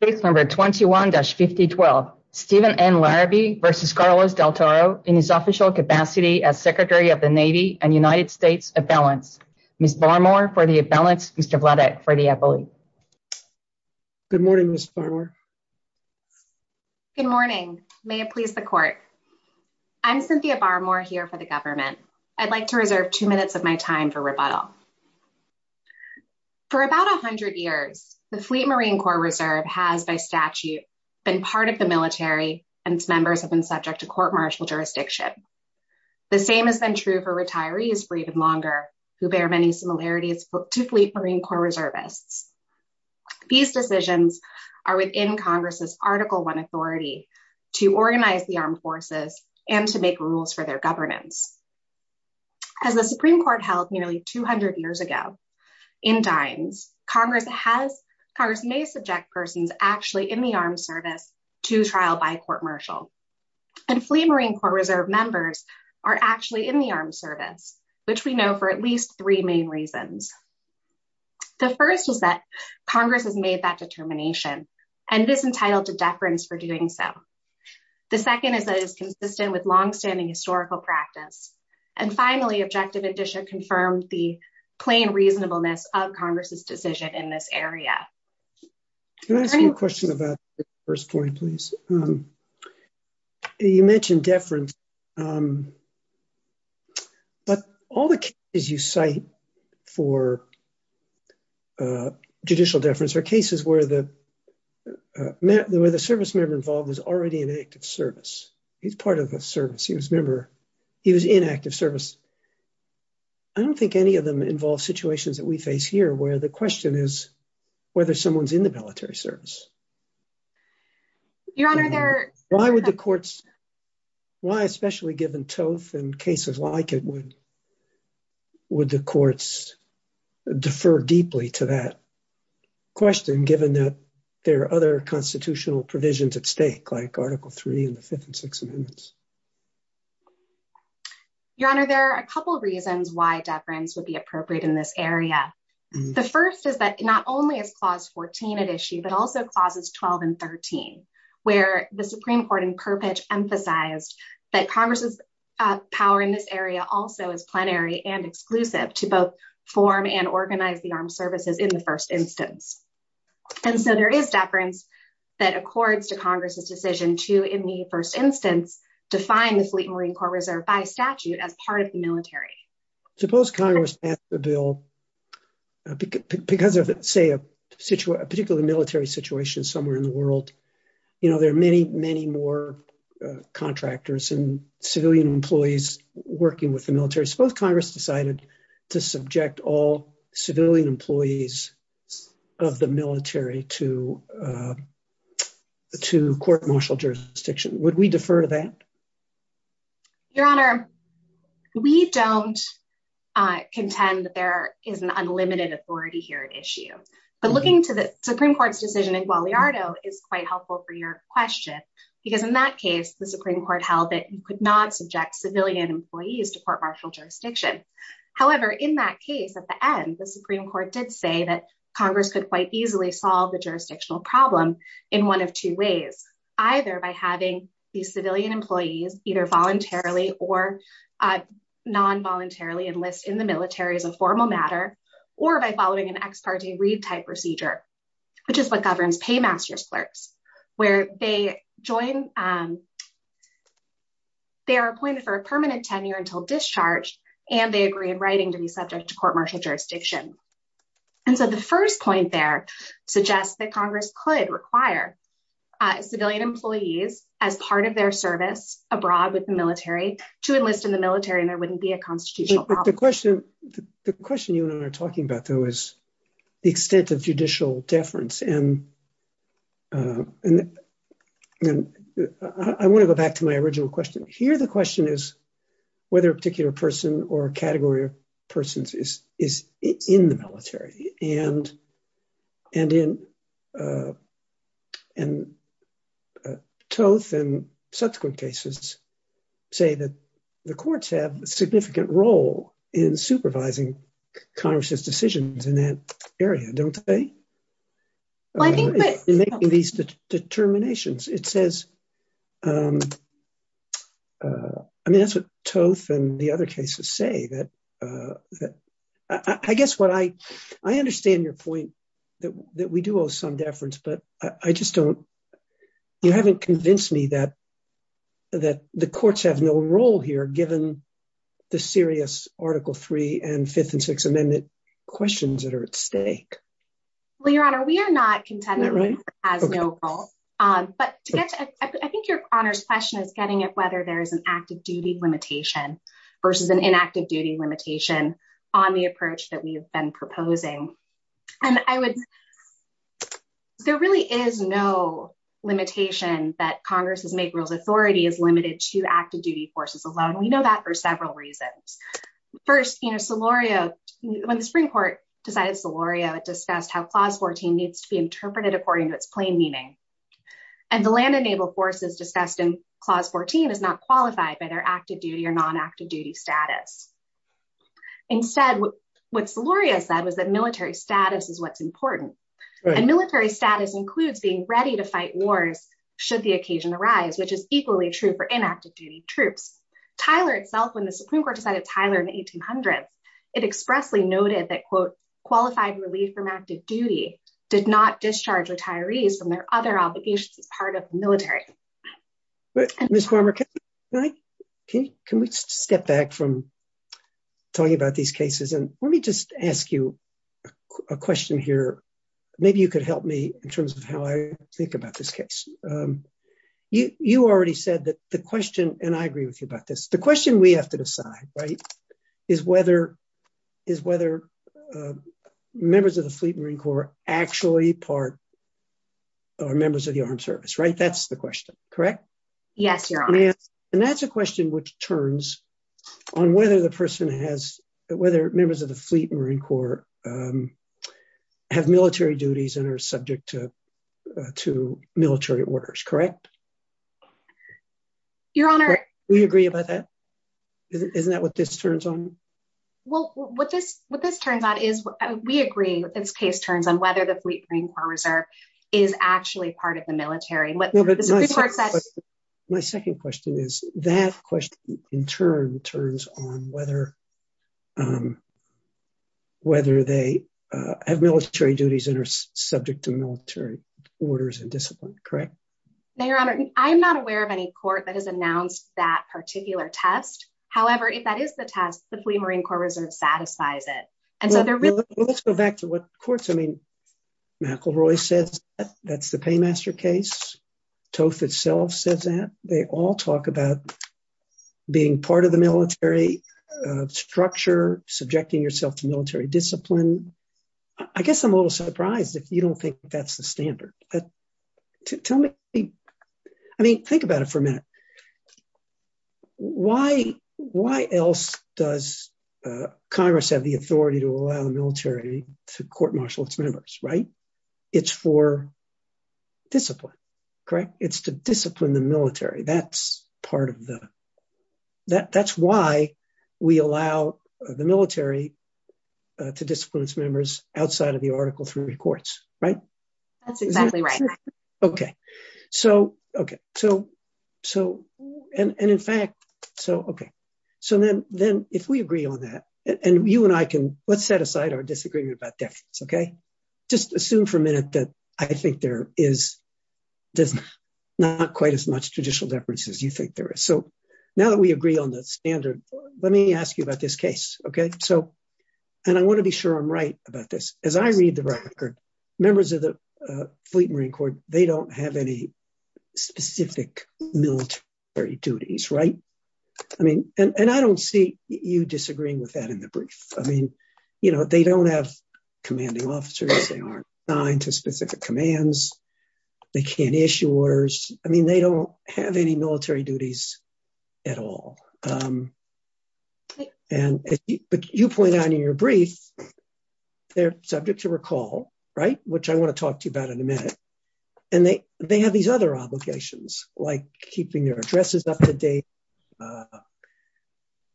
in his official capacity as Secretary of the Navy and United States Avalanche. Ms. Barmore for the Avalanche, Mr. Vladeck for the Avalanche. Good morning, Ms. Barmore. Good morning. May it please the court. I'm Cynthia Barmore here for the government. I'd like to reserve two minutes of my time for rebuttal. For about a hundred years, the Fleet Marine Corps Reserve has, by statute, been part of the military, and its members have been subject to court martial jurisdiction. The same has been true for retirees breathing longer, who bear many similarities to Fleet Marine Corps Reservists. These decisions are within Congress's Article I authority to organize the armed forces and to make rules for their governance. As the Supreme Court held nearly 200 years ago, in dimes, Congress has, Congress may subject persons actually in the armed service to trial by court martial. And Fleet Marine Corps Reserve members are actually in the armed service, which we know for at least three main reasons. The first is that Congress has made that determination, and is entitled to deference for doing so. The second is that it is consistent with longstanding historical practice. And finally, objective addition confirms the plain reasonableness of Congress's decision in this area. Can I ask you a question about the first point, please? You mentioned deference. But all the cases you cite for judicial deference are cases where the service member involved was already in active service. He's part of a service. He was a member. He was in active service. I don't think any of them involve situations that we face here where the question is whether someone's in the military service. Why would the courts, why, especially given Toth and cases like it, would the courts defer deeply to that question, given that there are other constitutional provisions at stake, like Article III and the Fifth and Sixth Amendments? Your Honor, there are a couple of reasons why deference would be appropriate in this area. The first is that not only is Clause 14 at issue, but also Clauses 12 and 13, where the Supreme Court in purpose emphasized that Congress's power in this area also is plenary and exclusive to both form and organize the armed services in the first instance. There is deference that accords to Congress's decision to, in the first instance, define the Fleet Marine Corps Reserve by statute as part of the military. Suppose Congress passed the bill because of, say, a particular military situation somewhere in the world. There are many, many more contractors and civilian employees working with the military. Suppose Congress decided to subject all civilian employees of the military to court martial jurisdiction. Would we defer to that? Your Honor, we don't contend that there is an unlimited authority here at issue. But looking to the Supreme Court's decision in Guadalajara is quite helpful for your question, because in that case, the Supreme Court held that you could not subject civilian employees to court martial jurisdiction. However, in that case, at the end, the Supreme Court did say that Congress could quite easily solve the jurisdictional problem in one of two ways, either by having these civilian employees either voluntarily or non-voluntarily enlist in the military as a formal matter or by following an ex parte retype procedure, which is what governs paymaster clerks, where they are appointed for a permanent tenure until discharged, and they agree in writing to be subject to court martial jurisdiction. And so the first point there suggests that Congress could require civilian employees as part of their service abroad with the military to enlist in the military, and there wouldn't be a constitutional problem. The question you and I are talking about, though, is the extent of judicial deference. And I want to go back to my original question. Here, the question is whether a particular person or category of persons is in the military. And Toth and subsequent cases say that the courts have a significant role in supervising Congress's decisions in that area, don't they? In making these determinations. It says... I mean, that's what Toth and the other cases say. I guess what I... I understand your point that we do owe some deference, but I just don't... You haven't convinced me that the courts have no role here given the serious Article III and Fifth and Sixth Amendment questions that are at stake. Well, Your Honor, we are not contending that Congress has no role. But I think Your Honor's question is getting at whether there is an active duty limitation versus an inactive duty limitation on the approach that we have been proposing. And I would... There really is no limitation that Congress's make rules authority is limited to active duty forces alone. We know that for several reasons. First, Solorio... When the Supreme Court decided Solorio, it discussed how Clause 14 needs to be interpreted according to its plain meaning. And the land and naval forces discussed in Clause 14 is not qualified by their active duty or non-active duty status. Instead, what Solorio said was that military status is what's important. And military status includes being ready to fight wars should the occasion arise, which is equally true for inactive duty troops. Tyler itself, when the Supreme Court decided Tyler in the 1800s, it expressly noted that, quote, qualified relief from active duty did not discharge retirees from their other obligations as part of the military. Ms. Cormer, can I... Can we step back from talking about these cases? And let me just ask you a question here. Maybe you could help me in terms of how I think about this case. You already said that the question... And I agree with you about this. The question we have to decide, right, is whether members of the Fleet Marine Corps actually are members of the armed service, right? That's the question, correct? Yes, Your Honor. And that's a question which turns on whether the person has... Whether members of the Fleet Marine Corps have military duties and are subject to military orders, correct? Your Honor... Do you agree about that? Isn't that what this turns on? Well, what this turns on is... We agree that this case turns on whether the Fleet Marine Corps Reserve is actually part of the military. My second question is, that question in turn turns on whether... Whether they have military duties and are subject to military orders and discipline, correct? Now, Your Honor, I am not aware of any court that has announced that particular test. However, if that is the test, the Fleet Marine Corps Reserve satisfies it. Well, let's go back to what the courts... I mean, McElroy says that's the Paymaster case. TOEF itself says that. They all talk about being part of the military structure, subjecting yourself to military discipline. I guess I'm a little surprised if you don't think that's the standard. But tell me... I mean, think about it for a minute. Why else does Congress have the authority to allow the military to court-martial its members, right? It's for discipline, correct? It's to discipline the military. That's part of the... That's why we allow the military to discipline its members outside of the Article III courts, right? That's exactly right. Okay. So, okay. So, and in fact... So, okay. So, then if we agree on that, and you and I can... Let's set aside our disagreement about defense, okay? Just assume for a minute that I think there is not quite as much judicial deference as you think there is. So, now that we agree on the standard, let me ask you about this case, okay? So, and I want to be sure I'm right about this. As I read the record, members of the Fleet Marine Corps, they don't have any specific military duties, right? I mean, and I don't see you disagreeing with that in the brief. I mean, you know, they don't have commanding officers. They aren't assigned to specific commands. They can't issue orders. I mean, they don't have any military duties at all. And as you point out in your brief, they're subject to recall, right? Which I want to talk to you about in a minute. And they have these other obligations, like keeping their addresses up to date,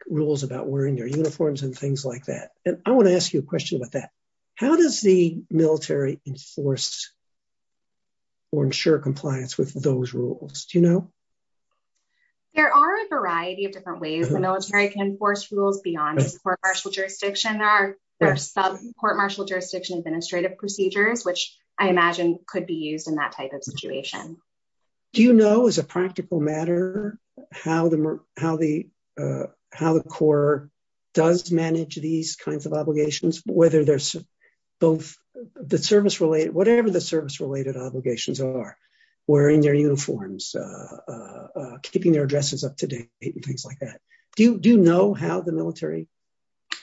rules about wearing their uniforms, and things like that. And I want to ask you a question about that. How does the military enforce or ensure compliance with those rules? Do you know? There are a variety of different ways the military can enforce rules beyond court-martial jurisdiction. There are sub-court-martial jurisdiction administrative procedures, which I imagine could be used in that type of situation. Do you know, as a practical matter, how the Corps does manage these kinds of obligations? Whether there's the service-related, whatever the service-related obligations are, wearing their uniforms, keeping their addresses up to date, and things like that. Do you know how the military...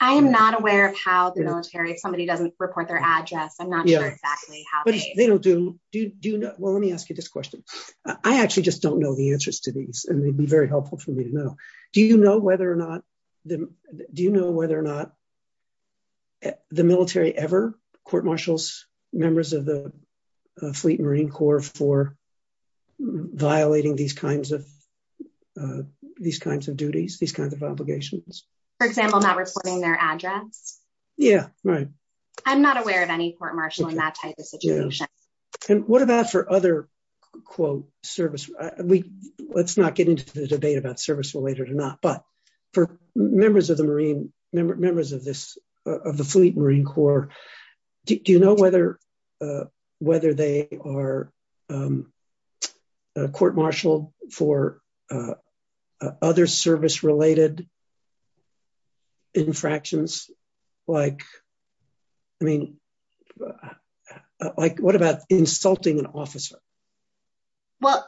I am not aware of how the military... If somebody doesn't report their address, I'm not sure exactly how they... They don't do... Well, let me ask you this question. I actually just don't know the answers to these, and they'd be very helpful for me to know. Do you know whether or not... Do you know whether or not the military ever court-martials members of the Fleet Marine Corps for violating these kinds of duties? These kinds of obligations? For example, not reporting their address? Yeah, right. I'm not aware of any court-martial in that type of situation. And what about for other, quote, service... Let's not get into the debate about service-related or not, but for members of the Marine... Members of the Fleet Marine Corps, do you know whether they are court-martialed for other service-related infractions? Like, I mean... Like, what about insulting an officer? Well...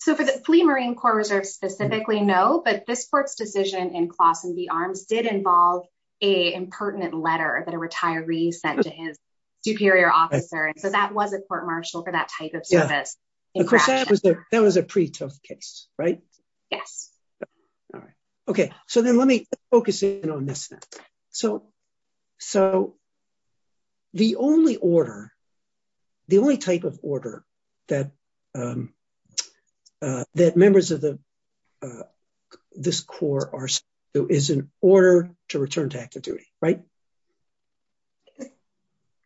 So, for the Fleet Marine Corps, there's specifically no, but this court's decision in Clawson v. Arms did involve a impertinent letter that a retiree sent to his superior officer, and so that was a court-martial for that type of infraction. Of course, that was a pretrial case, right? Yes. All right. Okay, so then let me focus in on this now. So, the only order, the only type of order that members of this Corps are sent to is an order to return to active duty, right?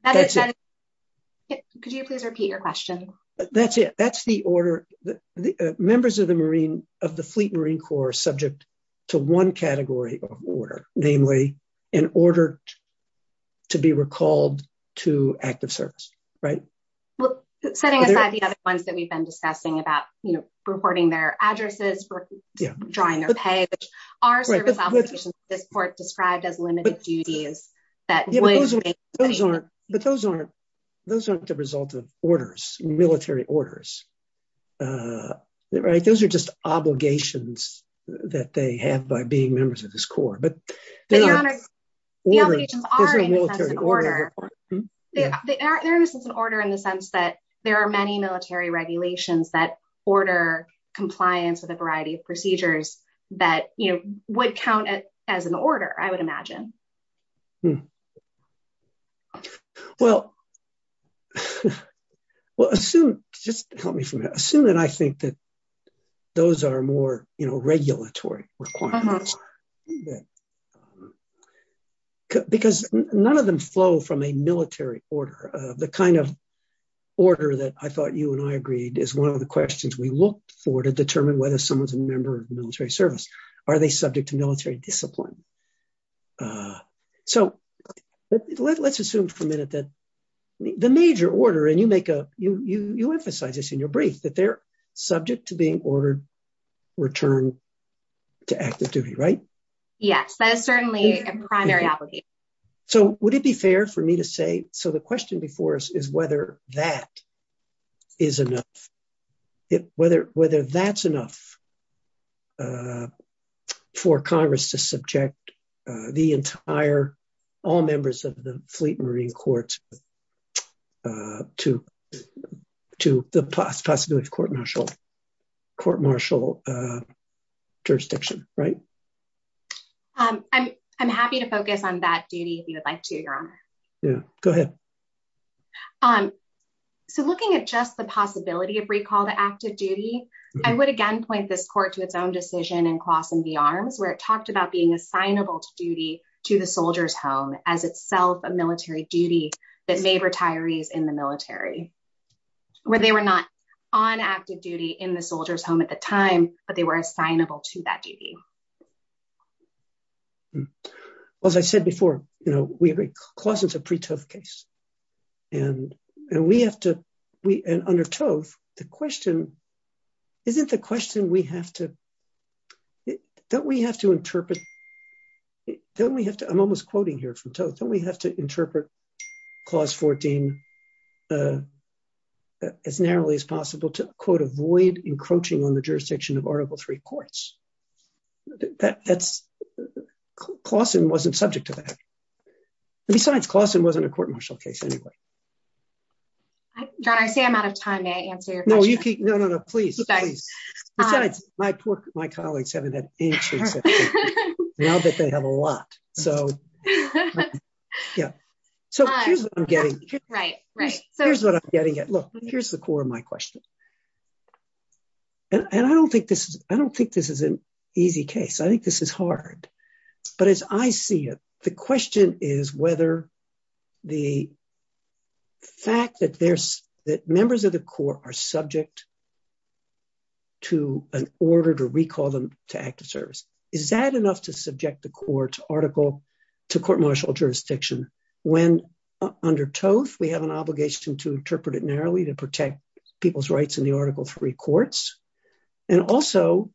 That is correct. Could you please repeat your question? That's it. That's the order. Members of the Fleet Marine Corps are subject to one category of order, namely, an order to be recalled to active service, right? Well, setting aside the other ones that we've been discussing about, you know, reporting their addresses versus drawing their pay, which are service obligations that this court described as limited duties that would make... But those aren't the result of orders, military orders, right? Those are just obligations that they have by being members of this Corps, but they are orders. The obligations are in the sense of an order. There is an order in the sense that there are many military regulations that order compliance that, you know, would count as an order, I would imagine. Well... Well, assume... Just help me from that. Assume that I think that those are more, you know, regulatory requirements. Because none of them flow from a military order. The kind of order that I thought you and I agreed is one of the questions we look for to determine whether someone's a member of the military service. Are they subject to military discipline? So let's assume for a minute that the major order, and you make a... You emphasize this in your brief that they're subject to being ordered return to active duty, right? Yes, that is certainly a primary obligation. So would it be fair for me to say... So the question before us is whether that is enough. Whether that's enough for Congress to subject the entire... All members of the Fleet Marine Corps to the possibility of court-martial... Court-martial jurisdiction, right? I'm happy to focus on that duty if you would like to, Your Honor. Yeah, go ahead. So looking at just the possibility of recall to active duty, I would again point this court to its own decision in Clausen v. Arms where it talked about being assignable to duty to the soldier's home as itself a military duty that made retirees in the military. Where they were not on active duty in the soldier's home at the time, but they were assignable to that duty. Well, as I said before, you know, Clausen's a pre-tove case. And we have to... And under tove, the question... Isn't the question we have to... Don't we have to interpret... Don't we have to... I'm almost quoting here from tove. Don't we have to interpret Clause 14 as narrowly as possible to, quote, avoid encroaching on the jurisdiction of Article III courts? Clausen wasn't subject to that. Besides, Clausen wasn't a court-martial case anyway. John, I say I'm out of time to answer your question. No, you keep... No, no, no, please, please. Besides, my poor... My colleagues haven't had any sleep since. And I bet they have a lot. So... Yeah. So here's what I'm getting... Right, right. Here's what I'm getting at. Look, here's the core of my question. And I don't think this is... I don't think this is an easy case. I think this is hard. But as I see it, the question is whether the fact that there's... That members of the court are subject to an order to recall them to active service. Is that enough to subject the court article to court-martial jurisdiction when, under tove, we have an obligation to interpret it narrowly to protect people's rights in the Article III courts? And also...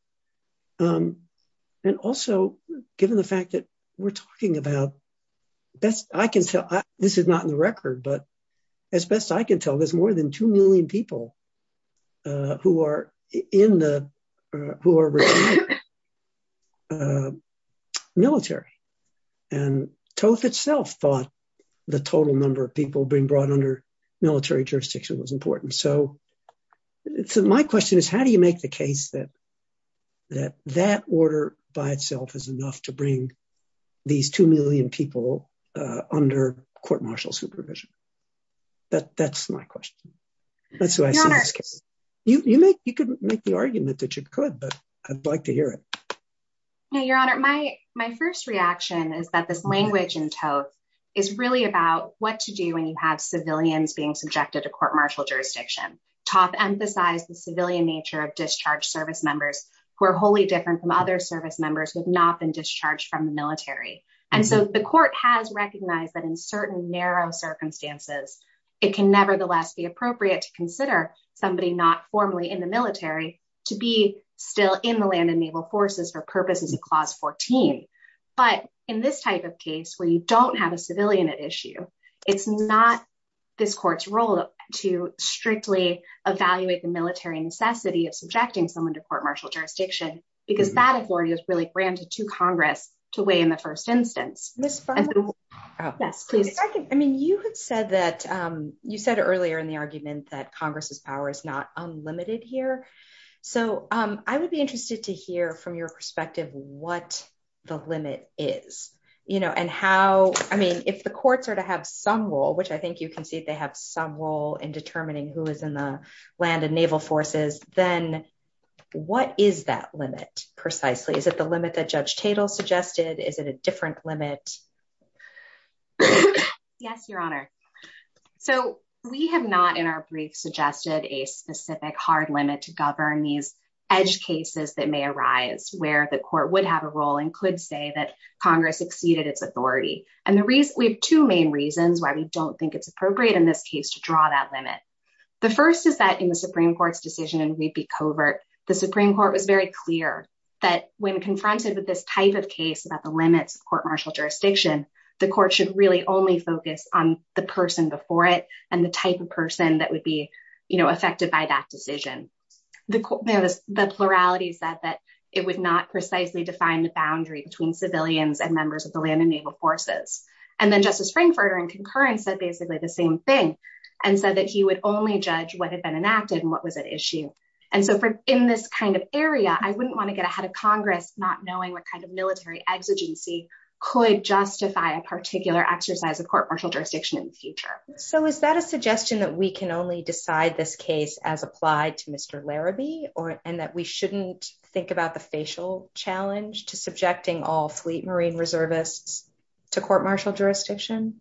And also, given the fact that we're talking about... I can tell... This is not in the record, but as best I can tell, there's more than 2 million people who are in the... Who are retired. Military. And tove itself thought the total number of people being brought under military jurisdiction was important. So... So my question is, how do you make the case that that order by itself is enough to bring these 2 million people under court-martial supervision? That's my question. That's who I'm asking. You could make the argument that you could, but I'd like to hear it. No, Your Honor. My first reaction is that this language in tove is really about what to do when you have civilians being subjected to court-martial jurisdiction. Tove emphasized the civilian nature of discharged service members who are wholly different from other service members who have not been discharged from the military. And so the court has recognized that in certain narrow circumstances, it can nevertheless be appropriate to consider somebody not formally in the military to be still in the land and naval forces for purposes of Clause 14. But in this type of case, where you don't have a civilian at issue, it's not this court's role to strictly evaluate the military necessity of subjecting someone to court-martial jurisdiction because that authority is really granted to Congress to weigh in the first instance. You said earlier in the argument that Congress's power is not unlimited here. So I would be interested to hear from your perspective what the limit is. If the courts are to have some role, which I think you can see they have some role in determining who is in the land and naval forces, then what is that limit precisely? Is it the limit that Judge Tatel suggested? Is it a different limit? Yes, Your Honor. So we have not in our briefs suggested a specific hard limit to govern these edge cases that may arise where the court would have a role and could say that Congress exceeded its authority. And we have two main reasons why we don't think it's appropriate in this case to draw that limit. The first is that in the Supreme Court's decision in Reed v. Covert, the Supreme Court was very clear that when confronted with this type of case about the limits of court-martial jurisdiction, the court should really only focus on the person before it and the type of person that would be affected by that decision. The plurality said that it would not precisely define the boundary between civilians and members of the land and naval forces. And then Justice Frankfurter in concurrence said basically the same thing and said that he would only judge what had been enacted and what was at issue. And so in this kind of area, I wouldn't want to get ahead of Congress not knowing what kind of military exigency could justify a particular exercise of court-martial jurisdiction in the future. So is that a suggestion that we can only decide this case as applied to Mr. Larabee and that we shouldn't think about the facial challenge to subjecting all fleet marine reservists to court-martial jurisdiction?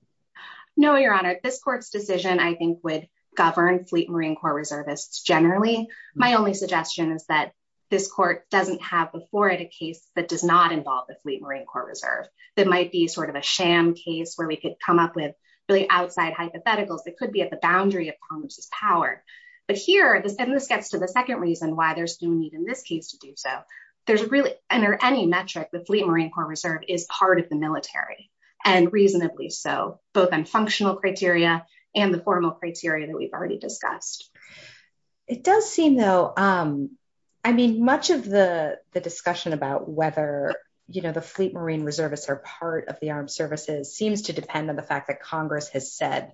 No, Your Honor. This court's decision, I think, would govern fleet marine corps reservists generally. My only suggestion is that this court doesn't have before it a case that does not involve the fleet marine corps reserve. That might be sort of a sham case where we could come up with really outside hypotheticals. It could be at the boundary of Congress's power. But here, and this gets to the second reason why there's no need in this case to do so. There's really, under any metric, the fleet marine corps reserve is part of the military and reasonably so, both on functional criteria and the formal criteria that we've already discussed. It does seem though, I mean, much of the discussion about whether, you know, the fleet marine reservists are part of the armed services seems to depend on the fact that Congress has said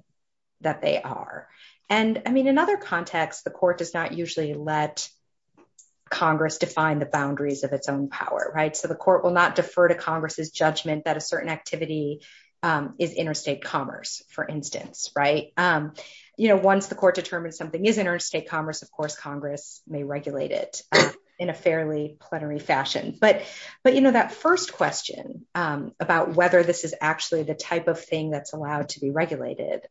that they are. And I mean, in other contexts, the court does not usually let Congress define the boundaries of its own power, right? So the court will not defer to Congress's judgment that a certain activity is interstate commerce, for instance, right? You know, once the court determines something is interstate commerce, of course, Congress may regulate it in a fairly plenary fashion. But, you know, that first question about whether this is actually the type of thing that's allowed to be regulated.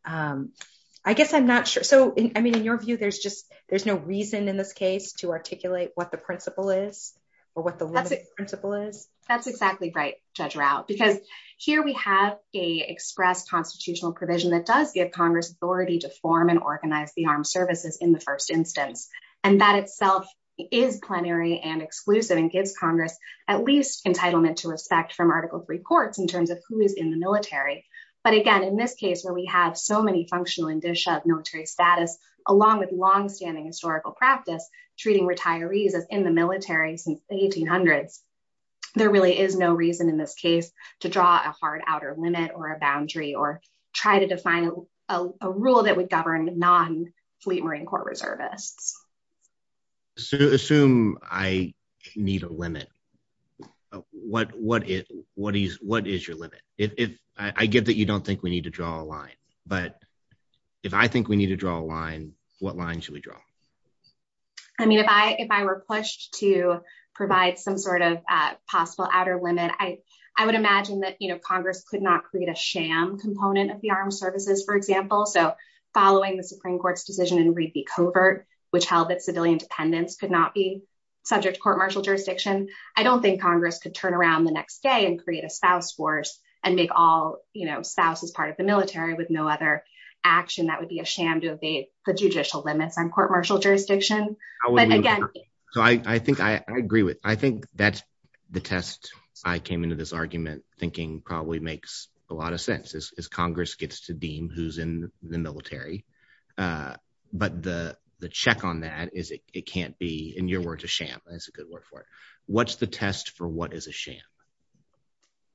I guess I'm not sure. So, I mean, in your view, there's just, there's no reason in this case to articulate what the principle is or what the limit principle is. That's exactly right, Judge Rao, because here we have a express constitutional provision that does give Congress authority to form and organize the armed services in the first instance. And that itself is plenary and exclusive and gives Congress at least entitlement to respect from Article III courts in terms of who is in the military. But again, in this case, where we have so many functional military status along with longstanding historical practice, treating retirees as in the military since the 1800s, there really is no reason in this case to draw a hard outer limit or a boundary or try to define a rule that would govern non-fleet Marine Corps reservists. So, assume I need a limit. What is your limit? I give that you don't think we need to draw a line. But if I think we need to draw a line, what line should we draw? I mean, if I were pushed to provide some sort of possible outer limit, I would imagine that Congress could not create a sham component of the armed services, for example. So, following the Supreme Court's decision in Reesey Covert, which held that civilian dependents could not be subject to court-martial jurisdiction, I don't think Congress could turn around the next day and create a spouse force and make all spouses part of the military with no other action. That would be a sham to evade the judicial limits on court-martial jurisdiction. So, I think I agree with... I think that's the test I came into this argument thinking probably makes a lot of sense, is Congress gets to deem who's in the military. But the check on that is it can't be, in your words, a sham. That's a good word for it. What's the test for what is a sham?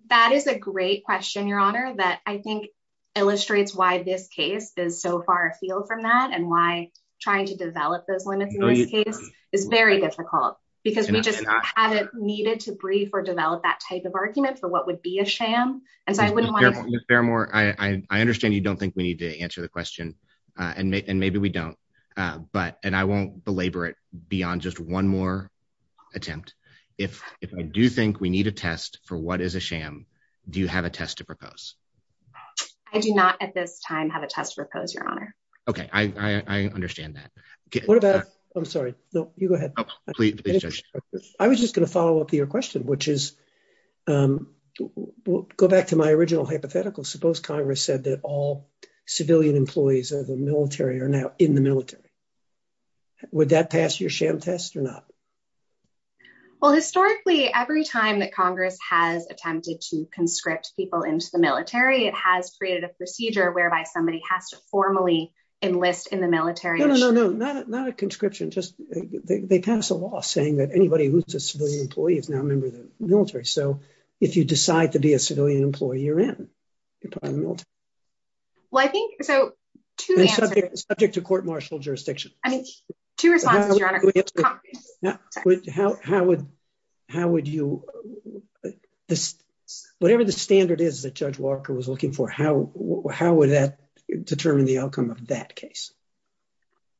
That is a great question, Your Honor, that I think illustrates why this case is so far afield from that and why trying to develop this one is very difficult because we just hadn't needed to breathe or develop that type of argument for what would be a sham. And I wouldn't want to... Ms. Fairmore, I understand you don't think we need to answer the question, and maybe we don't. And I won't belabor it beyond just one more attempt. If I do think we need a test for what is a sham, do you have a test to propose? I do not at this time have a test to propose, Your Honor. Okay, I understand that. What about, I'm sorry, no, you go ahead. Oh, please, Judge. I was just going to follow up your question, which is, go back to my original hypothetical. Suppose Congress said that all civilian employees of the military are now in the military. Would that pass your sham test or not? Well, historically, every time that Congress has attempted to conscript people into the military, it has created a procedure whereby somebody has to formally enlist in the military. No, no, no, no, not a conscription, just they pass a law saying that anybody who's a civilian employee is now a member of the military. So if you decide to be a civilian employee, you're in. You're probably in the military. Well, I think, so... Subject to court-martial jurisdiction. I mean, two responses, Your Honor. How would you... Whatever the standard is that Judge Walker was looking for, how would that determine the outcome of that case?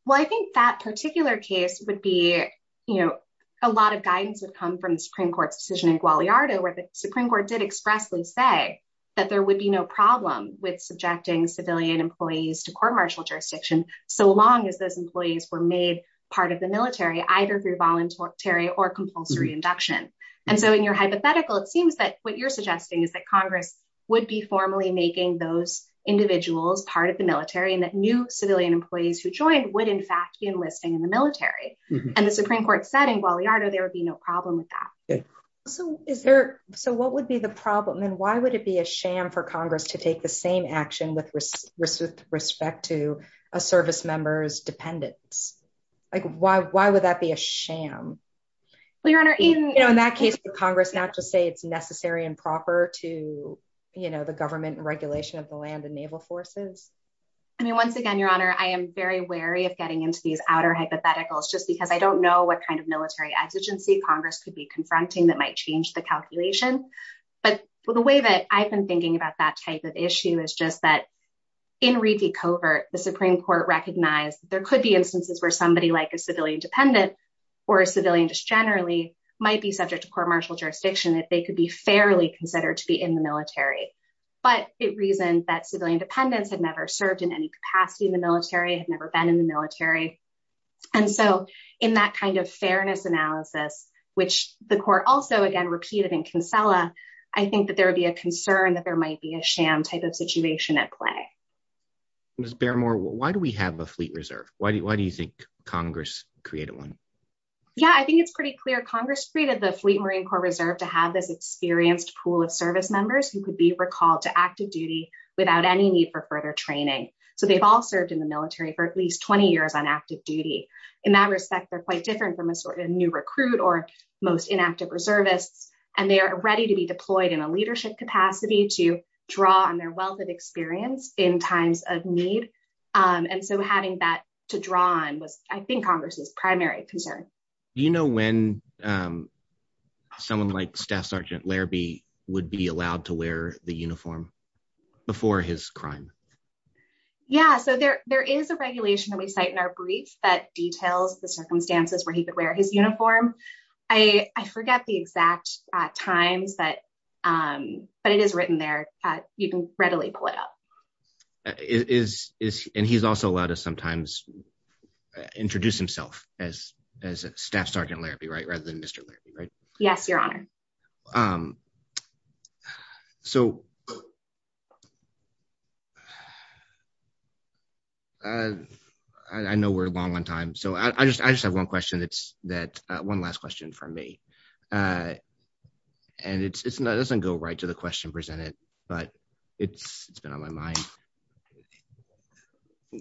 Well, I think that particular case would be, you know, a lot of guidance has come from the Supreme Court decision in Guadalajara where the Supreme Court did expressly say that there would be no problem with subjecting civilian employees to court-martial jurisdiction so long as those employees were made part of the military, either through voluntary or compulsory induction. And so in your hypothetical, it seems that what you're suggesting is that Congress would be formally making those individuals part of the military and that new civilian employees who join would in fact be enlisting in the military. And the Supreme Court said in Guadalajara there would be no problem with that. So what would be the problem? And why would it be a sham for Congress to take the same action with respect to a service member's dependents? Like, why would that be a sham? Well, Your Honor, even... In that case, would Congress not just say it's necessary and proper to, you know, the government and regulation of the land and naval forces? I mean, once again, Your Honor, I am very wary of getting into these outer hypotheticals just because I don't know what kind of military exigency Congress could be confronting that might change the calculation. But the way that I've been thinking about that type of issue is just that in Reiki covert, the Supreme Court recognized there could be instances where somebody like a civilian dependent or a civilian just generally might be subject to court martial jurisdiction that they could be fairly considered to be in the military. But it reasoned that civilian dependents had never served in any capacity in the military, had never been in the military. And so in that kind of fairness analysis, which the court also, again, repeated in Cancela, I think that there would be a concern that there might be a sham type of situation at play. Ms. Bearmore, why do we have a fleet reserve? Why do you think Congress created one? Yeah, I think it's pretty clear. Congress created the Fleet Marine Corps Reserve to have this experienced pool of service members who could be recalled to active duty without any need for further training. So they've all served in the military for at least 20 years on active duty. In that respect, they're quite different from a new recruit or most inactive reservists. And they are ready to be deployed in a leadership capacity to draw on their wealth of experience in times of need. And so having that to draw on is, I think, Congress's primary concern. Do you know when someone like Staff Sergeant Larabee would be allowed to wear the uniform before his crime? Yeah, so there is a regulation that we cite in our brief that details the circumstances where he could wear his uniform. I forget the exact time, but it is written there. You can readily pull it up. And he's also allowed to sometimes introduce himself as Staff Sergeant Larabee rather than Mr. Larabee, right? Yes, Your Honor. I know we're long on time, so I just have one question. It's that one last question from me. And it doesn't go right to the question presented, but it's been on my mind.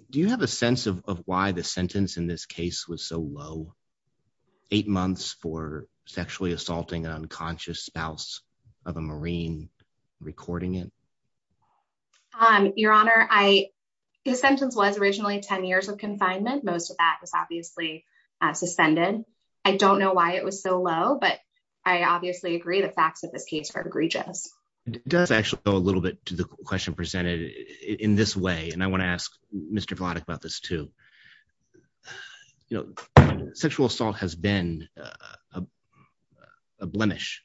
Do you have a sense of why the sentence in this case was so low, eight months for sexually assaulting an unconscious spouse of a Marine recording it? Your Honor, the sentence was originally 10 years with confinement. Most of that was obviously suspended. I don't know why it was so low, but I obviously agree. The facts of the case are egregious. It does actually go a little bit to the question presented in this way, and I want to ask Mr. Vladek about this too. Sexual assault has been a blemish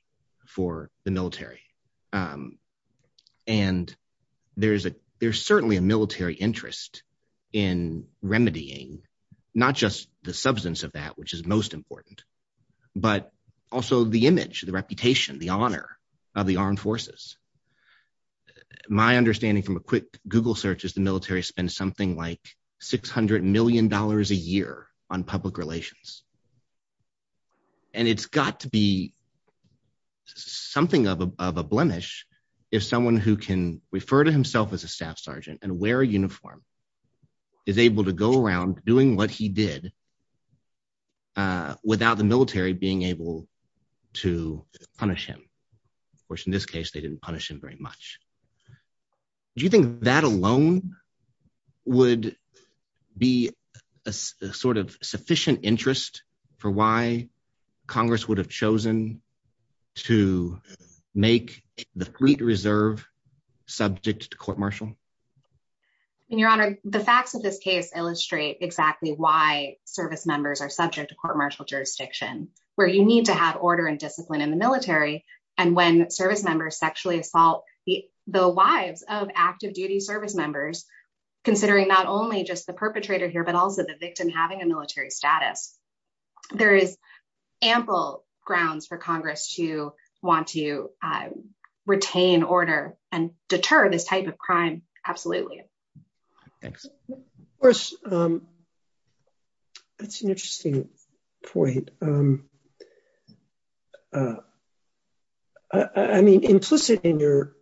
for the military. And there's certainly a military interest in remedying not just the substance of that, which is most important, but also the image, the reputation, the honor of the armed forces. My understanding from a quick Google search is the military spends something like $600 million a year on public relations. And it's got to be something of a blemish if someone who can refer to himself as a staff sergeant and wear a uniform is able to go around doing what he did without the military being able to punish him, which in this case, they didn't punish him very much. Do you think that alone would be a sort of sufficient interest for why Congress would have chosen to make the Fleet Reserve subject to court-martial? Your Honor, the facts of this case illustrate exactly why service members are subject to court-martial jurisdiction, where you need to have order and discipline in the military, and when service members sexually assault the wives of active-duty service members, considering not only just the perpetrator here, but also the victim having a military status. There is ample grounds for Congress to want to retain order and deter this type of crime, absolutely. Thanks. Of course, that's an interesting point. I mean, implicit in your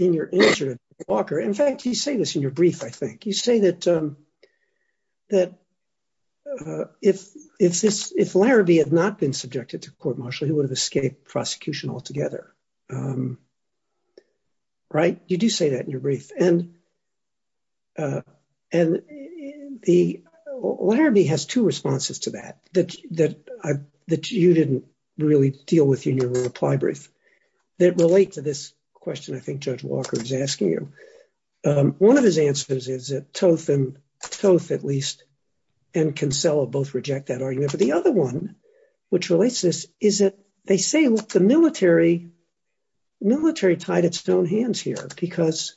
answer, Walker. In fact, you say this in your brief, I think. You say that if Larrabee had not been subjected to court-martial, he would have escaped prosecution altogether. You do say that in your brief. And Larrabee has two responses to that, that you didn't really deal with in your reply brief, that relate to this question I think Judge Walker is asking you. One of his answers is that Toth and Kinsella both reject that argument. But the other one, which relates to this, is that they say, look, the military tied its own hands here, because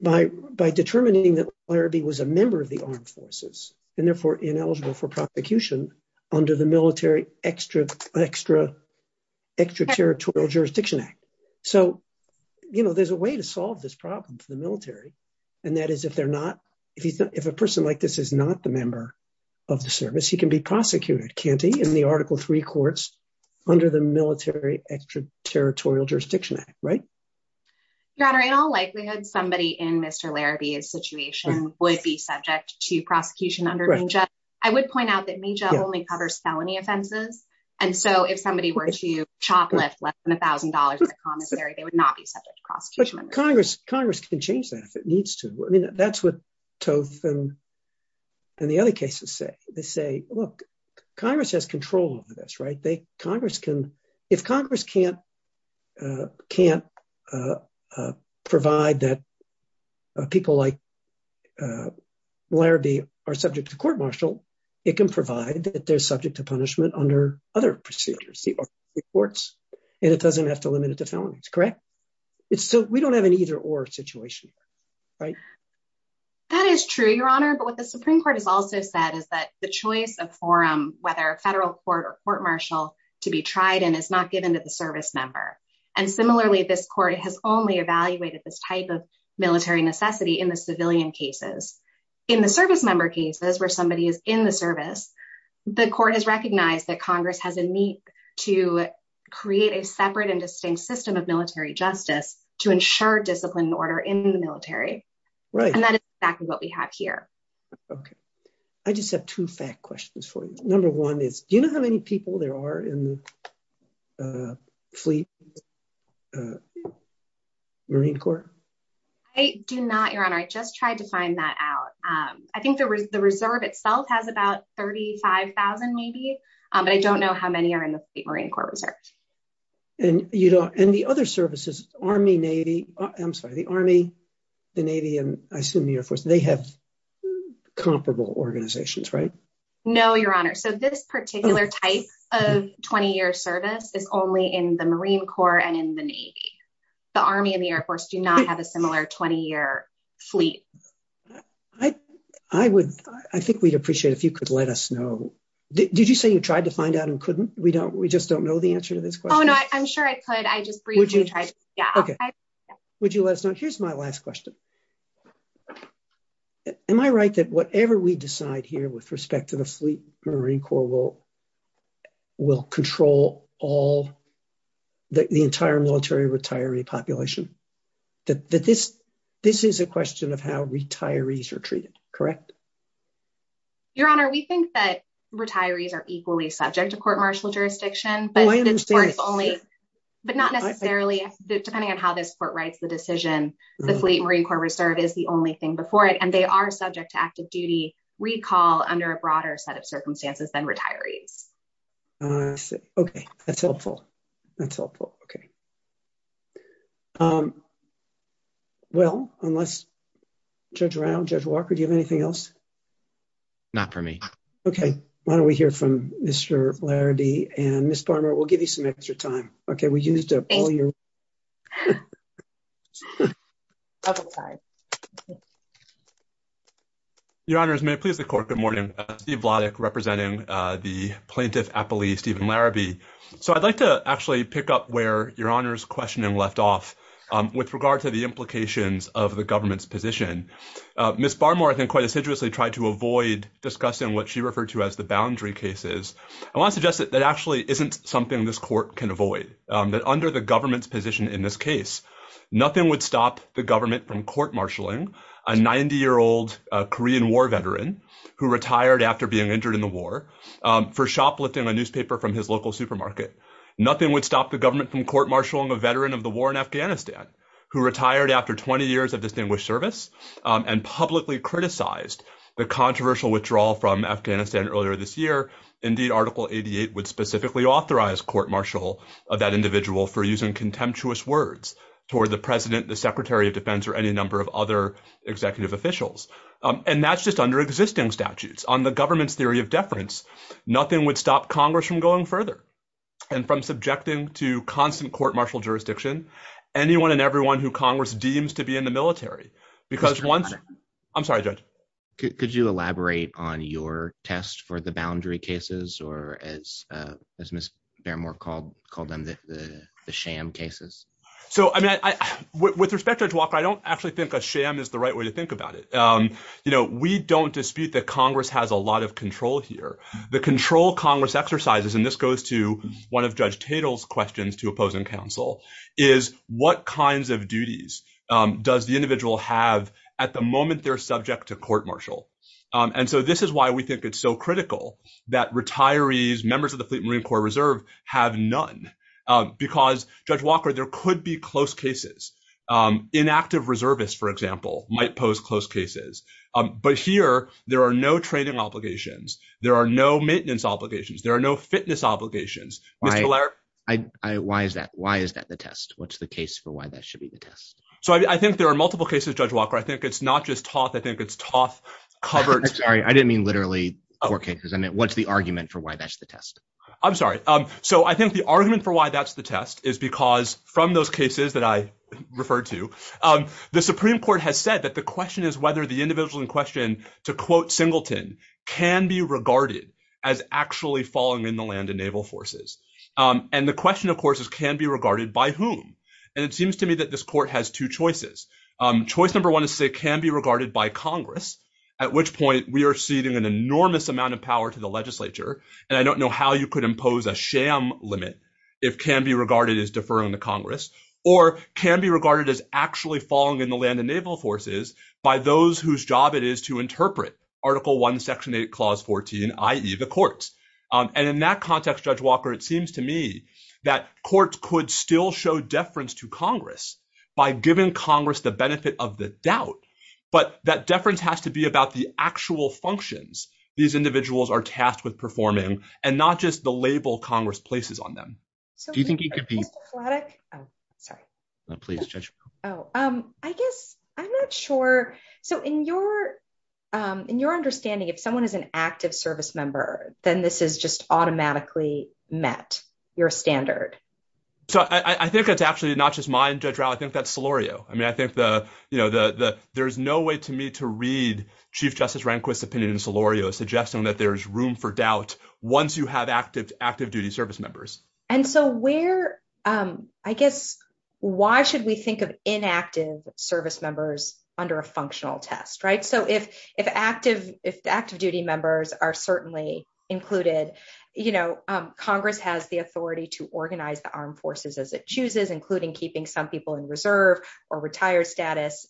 by determining that Larrabee was a member of the armed forces and therefore ineligible for prosecution under the Military Extraterritorial Jurisdiction Act. So, you know, there's a way to solve this problem for the military. And that is if they're not, if a person like this is not the member of the service, he can be prosecuted, can't he, in the Article III courts under the Military Extraterritorial Jurisdiction Act, right? Your Honor, in all likelihood, somebody in Mr. Larrabee's situation would be subject to prosecution under MNJA. I would point out that MNJA only covers felony offenses. And so if somebody were to shoplift less than $1,000 in a commissary, they would not be subject to prosecution. But Congress can change that if it needs to. I mean, that's what Toth and the other cases say. They say, look, Congress has control over this, right? If Congress can't provide that people like Larrabee are subject to court martial, it can provide that they're subject to punishment under other procedures, the Article III courts, and it doesn't have to limit it to felonies, correct? So we don't have an either or situation, right? That is true, Your Honor. But what the Supreme Court has also said is that the choice of forum, whether a federal court or court martial to be tried in, is not given to the service member. And similarly, this court has only evaluated this type of military necessity in the civilian cases. In the service member cases where somebody is in the service, the court has recognized that Congress has a need to create a separate and distinct system of military justice to ensure discipline and order in the military. And that is exactly what we have here. Okay. I just have two fact questions for you. Number one is, do you know how many people there are in the Fleet Marine Corps? I do not, Your Honor. I just tried to find that out. I think the reserve itself has about 35,000 maybe, but I don't know how many are in the Fleet Marine Corps Reserve. And the other services, Army, Navy, I'm sorry, the Army, the Navy, and I assume the Air Force, they have comparable organizations, right? No, Your Honor. So this particular type of 20-year service is only in the Marine Corps and in the Navy. The Army and the Air Force do not have a similar 20-year fleet. I think we'd appreciate if you could let us know. Did you say you tried to find out and couldn't? We just don't know the answer to this question. Oh, no, I'm sure I could. I just briefly tried. Okay. Would you let us know? Here's my last question. Am I right that whatever we decide here with respect to the Fleet Marine Corps will control all the entire military retiree population? That this is a question of how retirees are treated, correct? Your Honor, we think that retirees are equally subject to court martial jurisdiction, but not necessarily, depending on how this court writes the decision, the Fleet Marine Corps reserve is the only thing before it, and they are subject to active duty recall under a broader set of circumstances than retirees. Okay. That's helpful. That's helpful. Okay. Well, unless Judge Randall, Judge Walker, do you have anything else? Not for me. Okay. Why don't we hear from Mr. Laherty and Ms. Palmer. We'll give you some extra time. Okay. Your Honor, may it please the court, good morning. I'm Steve Vladeck, representing the Plaintiff Appellee, Stephen Larrabee. So I'd like to actually pick up where Your Honor's questioning left off with regard to the implications of the government's position. Ms. Barmore, I think, quite assiduously tried to avoid discussing what she referred to as the boundary cases. I want to suggest that that actually isn't something this court can avoid. Under the government's position in this case, nothing would stop the government from court-martialing a 90-year-old Korean War veteran who retired after being injured in the war for shoplifting a newspaper from his local supermarket. Nothing would stop the government from court-martialing a veteran of the war in Afghanistan who retired after 20 years of distinguished service and publicly criticized the controversial withdrawal from Afghanistan earlier this year. Indeed, Article 88 would specifically authorize court-martial of that individual for using contemptuous words toward the President, the Secretary of Defense, or any number of other executive officials. And that's just under existing statutes. On the government's theory of deference, nothing would stop Congress from going further and from subjecting to constant court-martial jurisdiction anyone and everyone who Congress deems to be in the military. I'm sorry, Judge. Could you elaborate on your test for the boundary cases, or as Ms. Fairmore called them, the sham cases? So, I mean, with respect, Judge Walker, I don't actually think a sham is the right way to think about it. You know, we don't dispute that Congress has a lot of control here. The control Congress exercises, and this goes to one of Judge Tatel's questions to opposing counsel, is what kinds of duties does the individual have at the moment they're subject to court-martial? And so this is why we think it's so critical that retirees, members of the Fleet Marine Corps Reserve, have none. Because, Judge Walker, there could be close cases. Inactive reservists, for example, might pose close cases. But here, there are no training obligations. There are no maintenance obligations. There are no fitness obligations. Why is that the test? What's the case for why that should be the test? So I think there are multiple cases, Judge Walker. I think it's not just Toth. I think it's Toth covered. I'm sorry. I didn't mean literally court cases. I meant what's the argument for why that's the test. I'm sorry. So I think the argument for why that's the test is because from those cases that I referred to, the Supreme Court has said that the question is whether the individual in question, to quote Singleton, can be regarded as actually falling in the land of naval forces. And the question, of course, is can be regarded by whom? And it seems to me that this court has two choices. Choice number one is to say can be regarded by Congress, at which point we are ceding an enormous amount of power to the legislature. And I don't know how you could impose a sham limit if can be regarded as deferring to Congress. Or can be regarded as actually falling in the land of naval forces by those whose job it is to interpret Article I, Section 8, Clause 14, i.e., the courts. And in that context, Judge Walker, it seems to me that courts could still show deference to Congress by giving Congress the benefit of the doubt. But that deference has to be about the actual functions these individuals are tasked with performing and not just the label Congress places on them. Do you think it could be? Oh, sorry. No, please, Judge. Oh, I guess I'm not sure. So in your understanding, if someone is an active service member, then this is just automatically met your standard. So I think it's actually not just mine, Judge Rowell. I think that's Solorio. I mean, I think there's no way to me to read Chief Justice Rehnquist's opinion in Solorio suggesting that there's room for doubt once you have active duty service members. And so where, I guess, why should we think of inactive service members under a functional test, right? So if active duty members are certainly included, you know, Congress has the authority to organize the armed forces as it chooses, including keeping some people in reserve or retired status.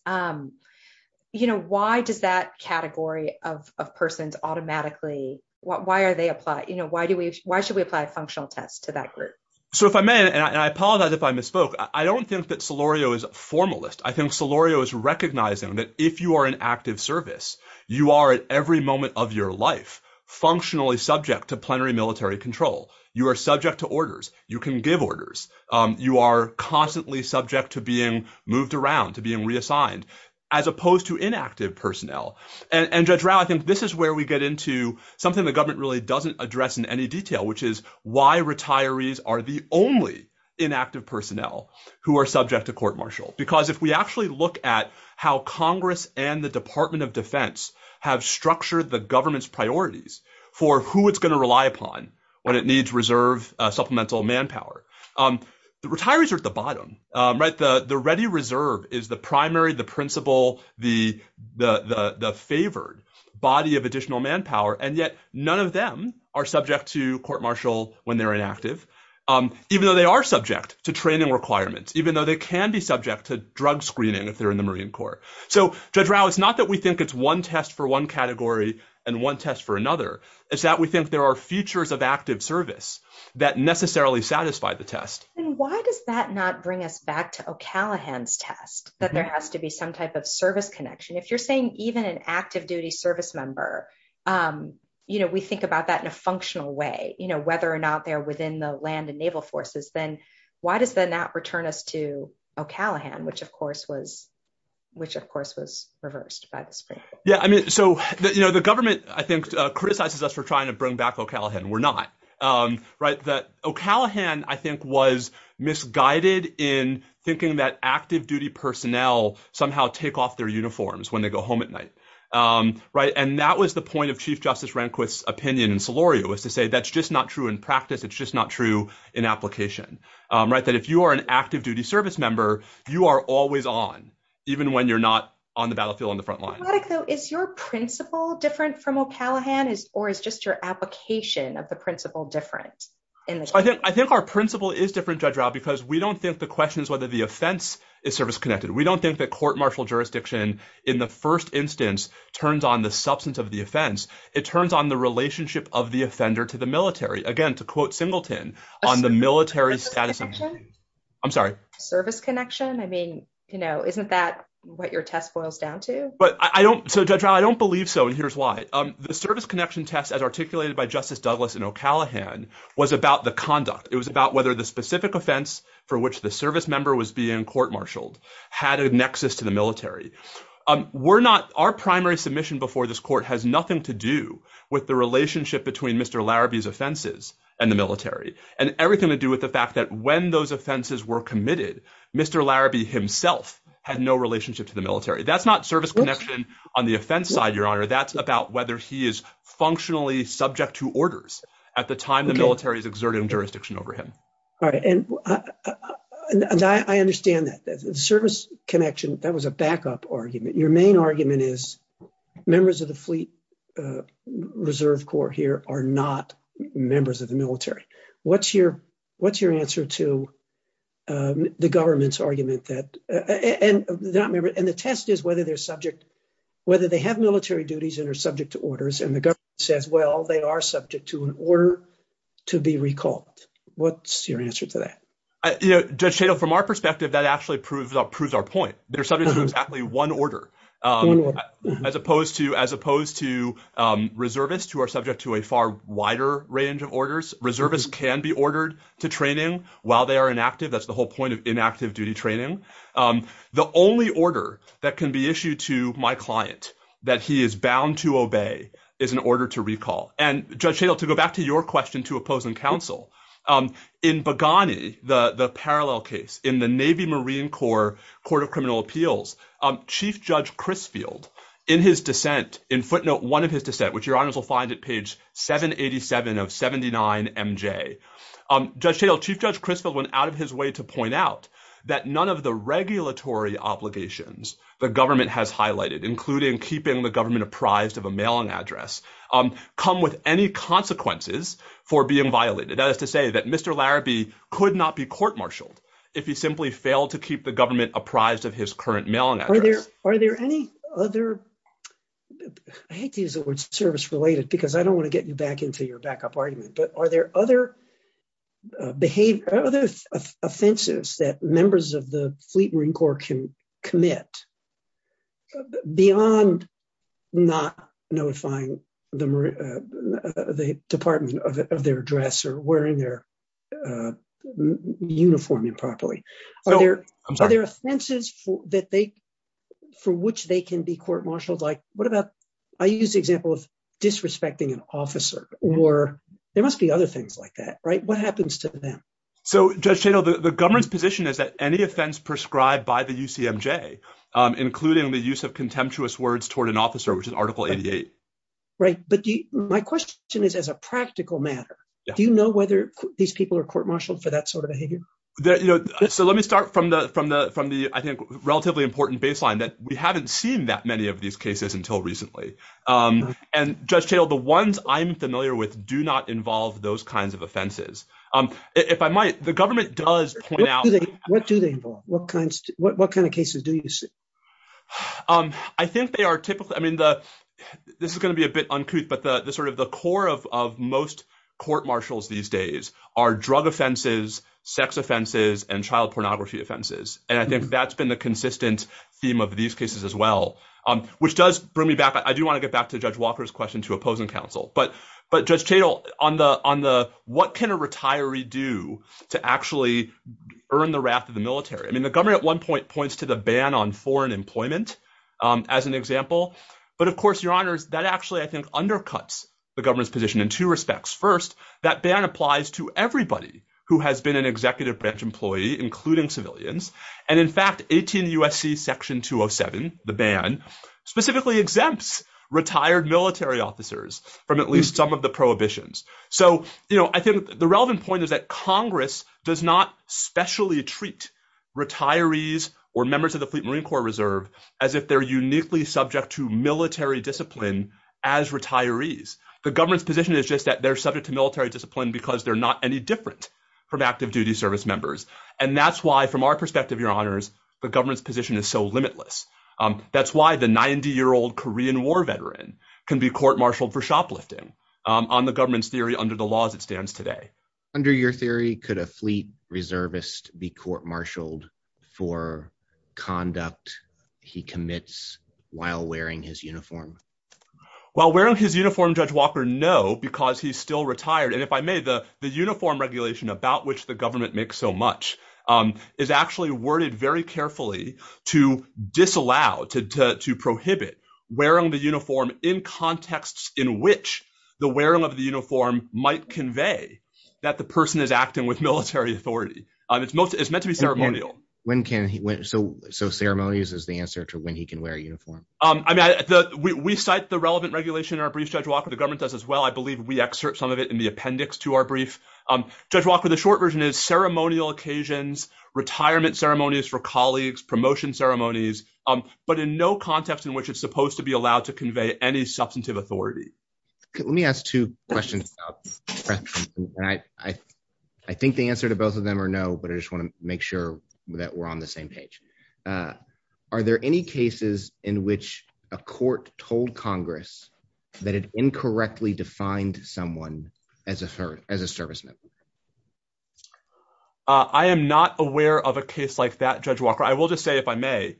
You know, why does that category of persons automatically, why are they applied? You know, why should we apply a functional test to that group? So if I may, and I apologize if I misspoke, I don't think that Solorio is a formalist. I think Solorio is recognizing that if you are an active service, you are at every moment of your life functionally subject to plenary military control. You are subject to orders. You can give orders. You are constantly subject to being moved around, to being reassigned, as opposed to inactive personnel. And Judge Rao, I think this is where we get into something the government really doesn't address in any detail, which is why retirees are the only inactive personnel who are subject to court-martial. Because if we actually look at how Congress and the Department of Defense have structured the government's priorities for who it's going to rely upon when it needs reserve supplemental manpower, retirees are at the bottom, right? The ready reserve is the primary, the principal, the favored body of additional manpower, and yet none of them are subject to court-martial when they're inactive, even though they are subject to training requirements, even though they can be subject to drug screening if they're in the Marine Corps. So Judge Rao, it's not that we think it's one test for one category and one test for another. It's that we think there are features of active service that necessarily satisfy the test. And why does that not bring us back to O'Callaghan's test, that there has to be some type of service connection? If you're saying even an active duty service member, you know, we think about that in a functional way, you know, whether or not they're within the land and naval forces, then why does that not return us to O'Callaghan, which of course was, which of course was reversed by the spring. Yeah. I mean, so, you know, the government, I think, criticizes us for trying to bring back O'Callaghan. We're not. Right. That O'Callaghan, I think, was misguided in thinking that active duty personnel somehow take off their uniforms when they go home at night. Right. And that was the point of Chief Justice Rehnquist's opinion in Solorio, was to say, that's just not true in practice. It's just not true in application. Right. That if you are an active duty service member, you are always on, even when you're not on the battlefield on the front line. So is your principle different from O'Callaghan, or is just your application of the principle different? I think our principle is different, Judge Rob, because we don't think the question is whether the offense is service connected. We don't think that court martial jurisdiction in the first instance turns on the substance of the offense. It turns on the relationship of the offender to the military. Again, to quote Singleton on the military. I'm sorry. Service connection. I mean, you know, isn't that what your test boils down to? But I don't. So Judge Rob, I don't believe so. And here's why. The service connection test as articulated by Justice Douglas in O'Callaghan was about the conduct. It was about whether the specific offense for which the service member was being court-martialed had a nexus to the military. We're not, our primary submission before this court has nothing to do with the relationship between Mr. Larrabee's offenses and the military and everything to do with the fact that when those offenses were committed, Mr. Larrabee himself had no relationship to the military. That's not service connection on the offense side, Your Honor. That's about whether he is functionally subject to orders at the time the military is exerting jurisdiction over him. All right. And I understand that the service connection, that was a backup argument. Your main argument is members of the fleet reserve core here are not members of the military. What's your, what's your answer to, the government's argument that, and the test is whether they're subject, whether they have military duties and are subject to orders and the government says, well, they are subject to an order to be recalled. What's your answer to that? Judge Cato, from our perspective, that actually proves our point. They're subject to exactly one order, as opposed to, as opposed to reservists who are subject to a far wider range of orders. Reservists can be ordered to training while they are inactive. That's the whole point of inactive duty training. The only order that can be issued to my client that he is bound to obey is an order to recall. And Judge Cato, to go back to your question to opposing counsel, in Boghani, the parallel case in the Navy Marine Corps, Court of Criminal Appeals, Chief Judge Crisfield in his dissent, in footnote one of his dissent, which your honors will find at page 787 of 79 MJ. Judge Cato, Chief Judge Crisfield went out of his way to point out that none of the regulatory obligations the government has highlighted, including keeping the government apprised of a mailing address, come with any consequences for being violated. That is to say that Mr. Larrabee could not be court-martialed if he simply failed to keep the government apprised of his current mailing address. Are there any other, I hate to use the word service-related because I don't want to get you back into your backup argument, but are there other offenses that members of the Fleet Marine Corps can commit beyond not notifying the Department of their address or wearing their uniform improperly? Are there offenses for which they can be court-martialed? Like what about, I use the example of disrespecting an officer or there must be other things like that, right? What happens to them? So Judge Cato, the government's position is that any offense prescribed by the UCMJ, including the use of contemptuous words toward an officer, which is Article 88. Right. But my question is as a practical matter, do you know whether these people are court-martialed for that sort of offense? Well, let me start from the, from the, from the, I think relatively important baseline that we haven't seen that many of these cases until recently. And Judge Cato, the ones I'm familiar with do not involve those kinds of offenses. If I might, the government does point out. What do they involve? What kinds, what kind of cases do you see? I think they are typically, I mean, the, this is going to be a bit uncouth, but the, the sort of the core of, of most court-martials these days are drug offenses, sex offenses, and child pornography offenses. And I think that's been the consistent theme of these cases as well, which does bring me back. I do want to get back to Judge Walker's question to opposing counsel, but, but Judge Cato on the, on the, what can a retiree do to actually earn the wrath of the military? I mean, the government at one point points to the ban on foreign employment as an example, but of course, Your Honors, that actually, I think, undercuts the government's position in two respects. First, that ban applies to everybody who has been an executive bench employee, including civilians. And in fact, 18 USC section 207, the ban specifically exempts retired military officers from at least some of the prohibitions. So, you know, I think the relevant point is that Congress does not specially treat retirees or members of the Fleet Marine Corps Reserve as if they're uniquely subject to retirees. The government's position is just that they're subject to military discipline because they're not any different from active duty service members. And that's why, from our perspective, Your Honors, the government's position is so limitless. That's why the 90 year old Korean war veteran can be court-martialed for shoplifting on the government's theory under the laws that stands today. Under your theory, could a Fleet Reservist be court-martialed for conduct he commits while wearing his uniform? While wearing his uniform, Judge Walker, no, because he's still retired. And if I may, the uniform regulation about which the government makes so much is actually worded very carefully to disallow, to prohibit wearing the uniform in contexts in which the wearing of the uniform might convey that the person is acting with military authority. It's meant to be ceremonial. So ceremonies is the answer to when he can wear a uniform? We cite the relevant regulation in our briefs, Judge Walker, the government does as well. I believe we excerpt some of it in the appendix to our brief. Judge Walker, the short version is ceremonial occasions, retirement ceremonies for colleagues, promotion ceremonies, but in no context in which it's supposed to be allowed to convey any substantive authority. Let me ask two questions. I think the answer to both of them are no, but I just want to make sure that we're on the same page. Are there any cases in which a court told Congress that it incorrectly defined someone as a third, as a serviceman? I am not aware of a case like that, Judge Walker. I will just say, if I may,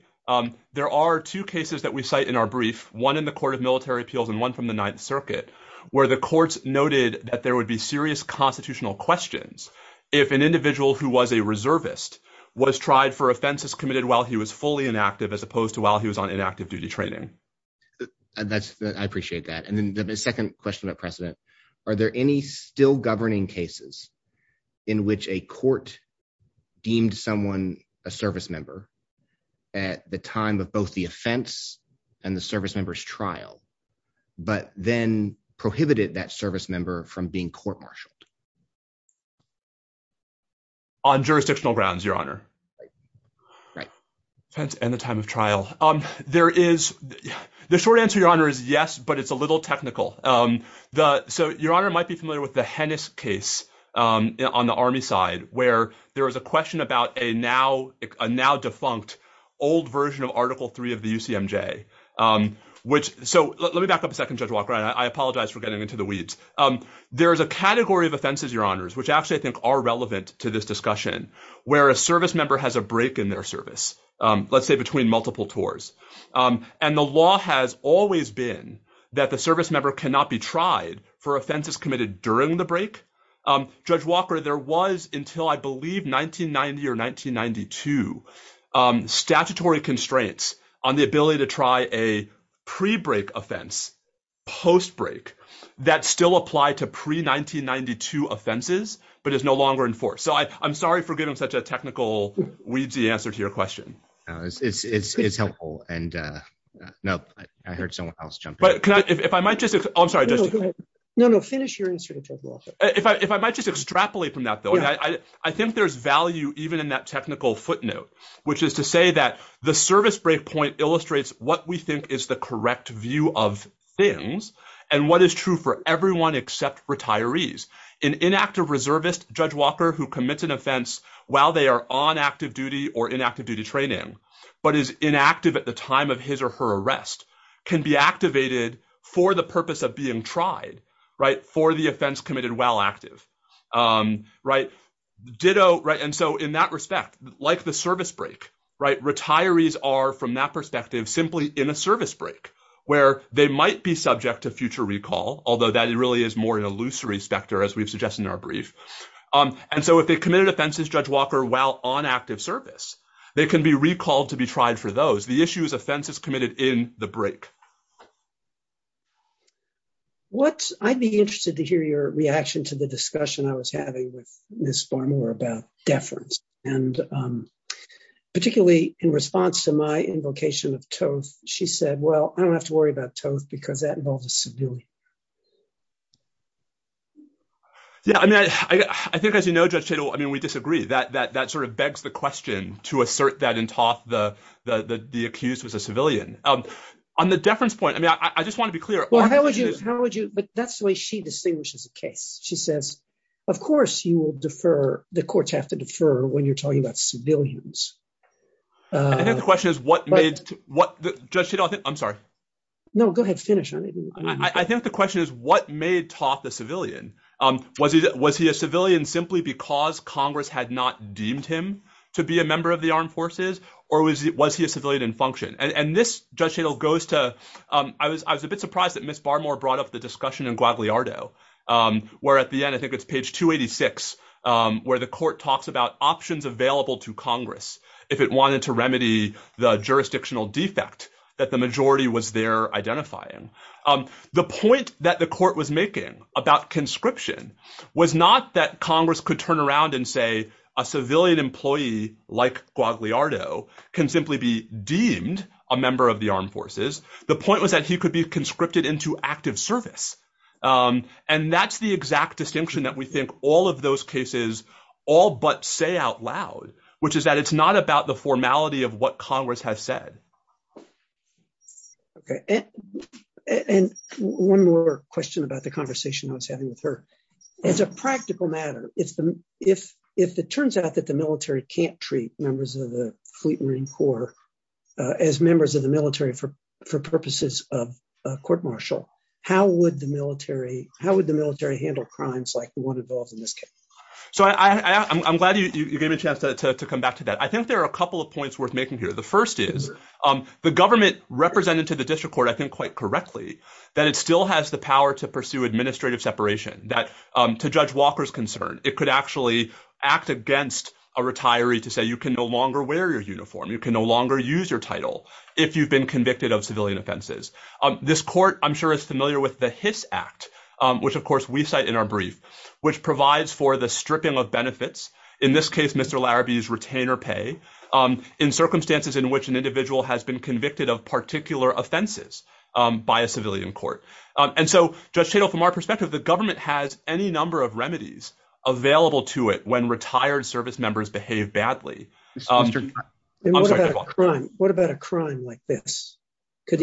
there are two cases that we cite in our brief, one in the court of military appeals and one from the ninth circuit where the courts noted that there would be serious constitutional questions. If an individual who was a reservist was tried for offenses committed while he was fully inactive, as opposed to while he was on inactive duty training. I appreciate that. And then the second question about precedent, are there any still governing cases in which a court deemed someone a servicemember at the time of both the offense and the servicemembers trial, but then prohibited that servicemember from being court-martialed? On jurisdictional grounds, Your Honor. And the time of trial. The short answer, Your Honor, is yes, but it's a little technical. So Your Honor might be familiar with the Hennis case on the army side where there was a question about a now defunct old version of article three of the UCMJ. So let me back up a second, Judge Walker, and I apologize for getting into the weeds. There's a category of offenses, Your Honors, which actually I think are relevant to this discussion, where a servicemember has a break in their service, let's say between multiple tours. And the law has always been that the servicemember cannot be tried for offenses committed during the break. Judge Walker, there was until I believe 1990 or 1992 statutory constraints on the ability to to serve in the military. And that still applied to pre 1992 offenses, but it's no longer enforced. So I'm sorry for getting such a technical weedsy answer to your question. It's helpful. And no, I heard someone else jump in. If I might just, I'm sorry. No, no, finish your answer. If I, if I might just extrapolate from that though, I think there's value even in that technical footnote, which is to say that the service break point illustrates what we think is the And that is that everyone except retirees, an inactive reservist judge Walker who commits an offense while they are on active duty or inactive duty training, but is inactive at the time of his or her arrest can be activated for the purpose of being tried, right. For the offense committed while active. Right. Ditto. Right. And so in that respect, like the service break, right. It really is more of an illusory specter as we've suggested in our brief. And so if they committed offenses, judge Walker, while on active service, they can be recalled to be tried for those, the issues offenses committed in the break. What I'd be interested to hear your reaction to the discussion I was having with Ms. Farmer about deference. And particularly in response to my invocation of toast, she said, well, I don't have to worry about toast because that involves a civilian. Yeah. I mean, I think as you know, just, you know, I mean, we disagree that, that, that sort of begs the question to assert that in top the, the accused was a civilian on the deference point. I mean, I just want to be clear. How would you, how would you, but that's the way she distinguishes the case. She says, of course you will defer. The courts have to defer when you're talking about civilians. I think the question is what made, what does she don't think? I'm sorry. No, go ahead. Finish. I think the question is what made top the civilian? Was he, was he a civilian simply because Congress had not deemed him to be a member of the armed forces or was he, was he a civilian in function? And this judge handle goes to I was, I was a bit surprised that Ms. Farmer brought up the discussion in Guadalajara where at the end, I think it's page two 86, where the court talks about options available to Congress. If it wanted to remedy the jurisdictional defect that the majority was there identifying the point that the court was making about conscription was not that Congress could turn around and say a civilian employee like Guadalajara can simply be deemed a member of the armed forces. The point was that he could be conscripted into active service. And that's the exact distinction that we think all of those cases all but say out loud, which is that it's not about the formality of what Congress has said. Okay. And one more question about the conversation I was having with her. It's a practical matter. If it turns out that the military can't treat members of the fleet Marine Corps as members of the military for purposes of a court martial, how would the military, how would the military handle crimes like the one involved in this case? So I'm glad you gave me a chance to come back to that. I think there are a couple of points worth making here. The first is the government represented to the district court, I think quite correctly that it still has the power to pursue administrative separation that to judge Walker's concern, it could actually act against a retiree to say you can no longer wear your uniform. You can no longer use your title if you've been convicted of civilian offenses. This court, I'm sure it's familiar with the Hiss Act, which of course we cite in our brief, which provides for the stripping of benefits. In this case, Mr Larrabee's retainer pay in circumstances in which an individual has been convicted of particular offenses by a civilian court. And so just to know from our perspective, the government has any number of remedies available to it when retired service members behave badly. What about a crime like this? I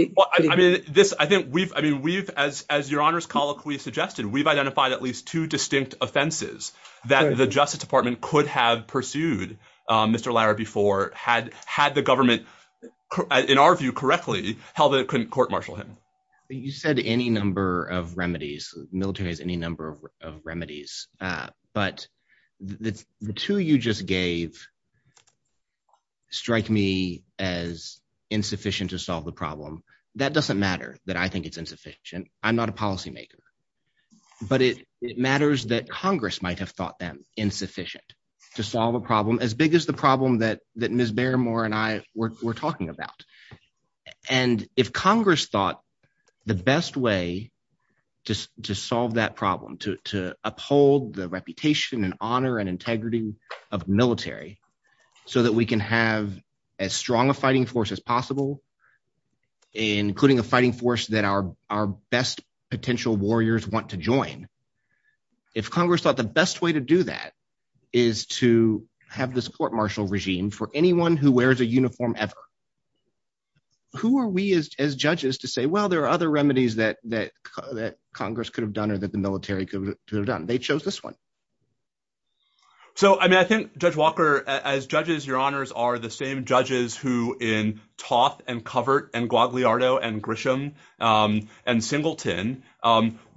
think we've, I mean, we've, as, as your honor's call, we've suggested we've identified at least two distinct offenses that the district court pursued Mr Larrabee for had, had the government, in our view correctly, how the court marshal him. You said any number of remedies, military has any number of remedies, but the two you just gave strike me as insufficient to solve the problem. That doesn't matter that I think it's insufficient. I'm not a policymaker, but it matters that Congress might have thought them insufficient to solve a problem as big as the problem that, that Ms. Barrymore and I were talking about. And if Congress thought the best way to solve that problem, to uphold the reputation and honor and integrity of military so that we can have as strong a fighting force as possible, including a fighting force that our, our best potential warriors want to join. If Congress thought the best way to do that is to have the support marshal regime for anyone who wears a uniform ever, who are we as judges to say, well, there are other remedies that that Congress could have done or that the military could have done. They chose this one. So, I mean, I think judge Walker, as judges, your honors are the same judges who in Toth and Covert and Guagliardo and Grisham and Singleton,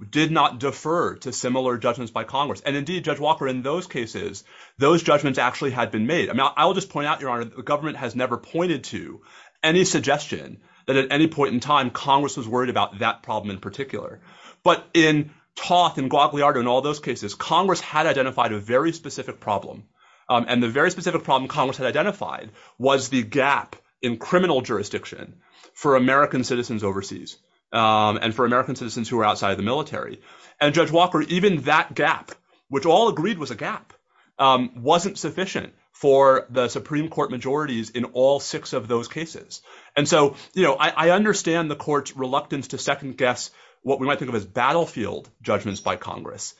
did not defer to similar judgments by Congress. And indeed judge Walker, in those cases, those judgments actually had been made. I will just point out your honor, the government has never pointed to any suggestion that at any point in time, Congress was worried about that problem in particular, but in Toth and Guagliardo and all those cases, Congress had identified a very specific problem. And the very specific problem Congress had identified was the gap in criminal jurisdiction for American citizens overseas. And for American citizens who are outside of the military and judge Walker, even that gap, which all agreed was a gap, wasn't sufficient for the Supreme court majorities in all six of those cases. And so, you know, I understand the court's reluctance to second guess what we might think of as battlefield judgments by Congress.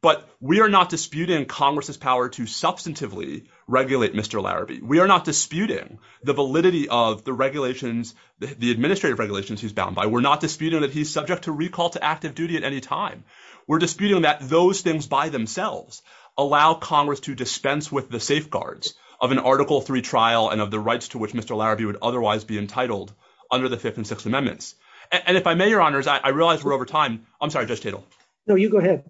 But we are not disputing Congress's power to substantively regulate Mr. Larrabee. We are not disputing the validity of the regulations, the administrative regulations he's bound by. We're not disputing that he's subject to recall to active duty at any time. We're disputing that those things by themselves allow Congress to dispense with the safeguards of an article three trial and of the rights to which Mr. Larrabee would otherwise be entitled under the fifth and sixth amendments. And if I may, your honors, I realized we're over time. I'm sorry, Judge Tatel. No, you go ahead.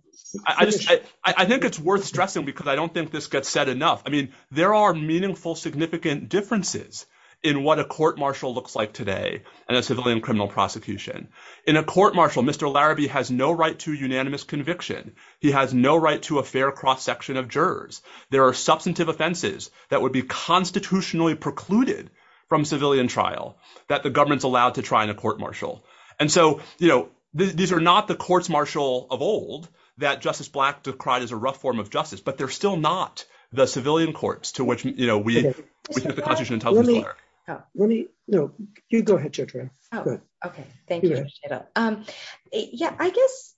I think it's worth stressing because I don't think this gets said enough. I mean, there are meaningful significant differences in what a court martial looks like today and a civilian criminal prosecution. In a court martial, Mr. Larrabee has no right to unanimous conviction. He has no right to a fair cross section of jurors. There are substantive offenses that would be constitutionally precluded from civilian trial that the government's allowed to try in a court martial. And so, you know, these are not the courts martial of old that Justice Black decried as a rough form of justice, but they're still not the civilian courts to which, you know, we put the constitution in top of the bar. Let me, no, you go ahead. Oh, okay. Thank you. Yeah, I guess,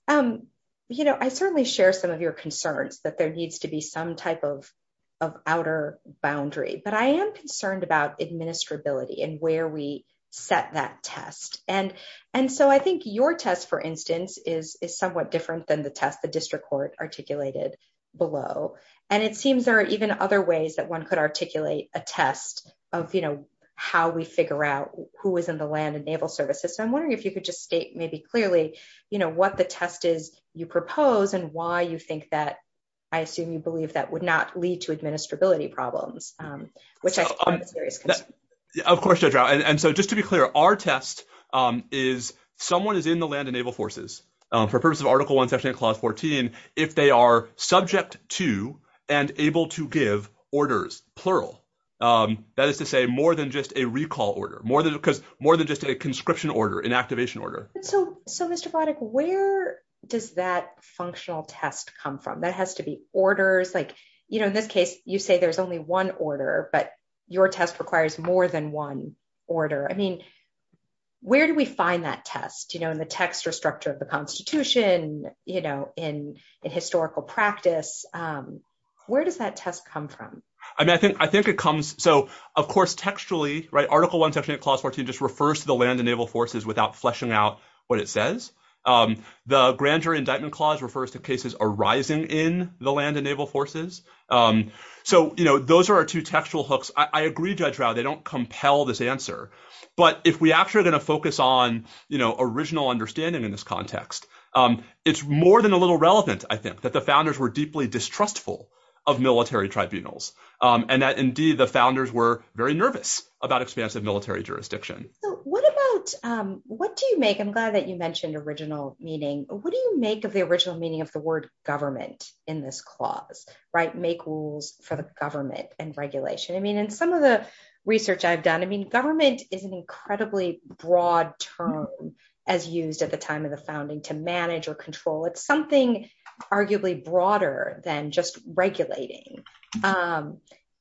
you know, I certainly share some of your concerns that there needs to be some type of, of outer boundary, but I am concerned about administrability and where we set that test. And, and so I think your test, for instance, is, is somewhat different than the test, the district court articulated below. And it seems there are even other ways that one could articulate a test of, you know, how we figure out who was in the land and naval services. So I'm wondering if you could just state maybe clearly, you know, what the test is you propose and why you think that, I assume you believe that would not lead to administrability problems, which I. Of course. And so just to be clear, our test is, someone is in the land and naval forces for purpose of article one, section of clause 14, if they are subject to and able to give orders, plural, that is to say more than just a recall order, more than because more than just a conscription order, an activation order. So, so Mr. Glodick, where does that functional test come from? That has to be orders. Like, you know, in this case, you say there's only one order, but your test requires more than one order. I mean, where do we find that test, you know, in the text or structure of the constitution, you know, in historical practice, where does that test come from? I mean, I think, I think it comes. So of course, textually, right. Article one, section of clause 14, just refers to the land and naval forces without fleshing out what it says. The grand jury indictment clause refers to cases arising in the land and naval forces. So, you know, those are our two textual hooks. I agree, Judge Rauh, they don't compel this answer, but if we actually are going to focus on, you know, original understanding in this context, it's more than a little relevant I think that the founders were deeply distrustful of military tribunals and that indeed the founders were very nervous about expansive military jurisdiction. What about, what do you make, I'm glad that you mentioned original meaning, what do you make of the original meaning of the word government in this clause, right? Make rules for the government and regulation. I mean, in some of the research I've done, I mean, government is an incredibly broad term as used at the time of the founding to manage or control. It's something arguably broader than just regulating.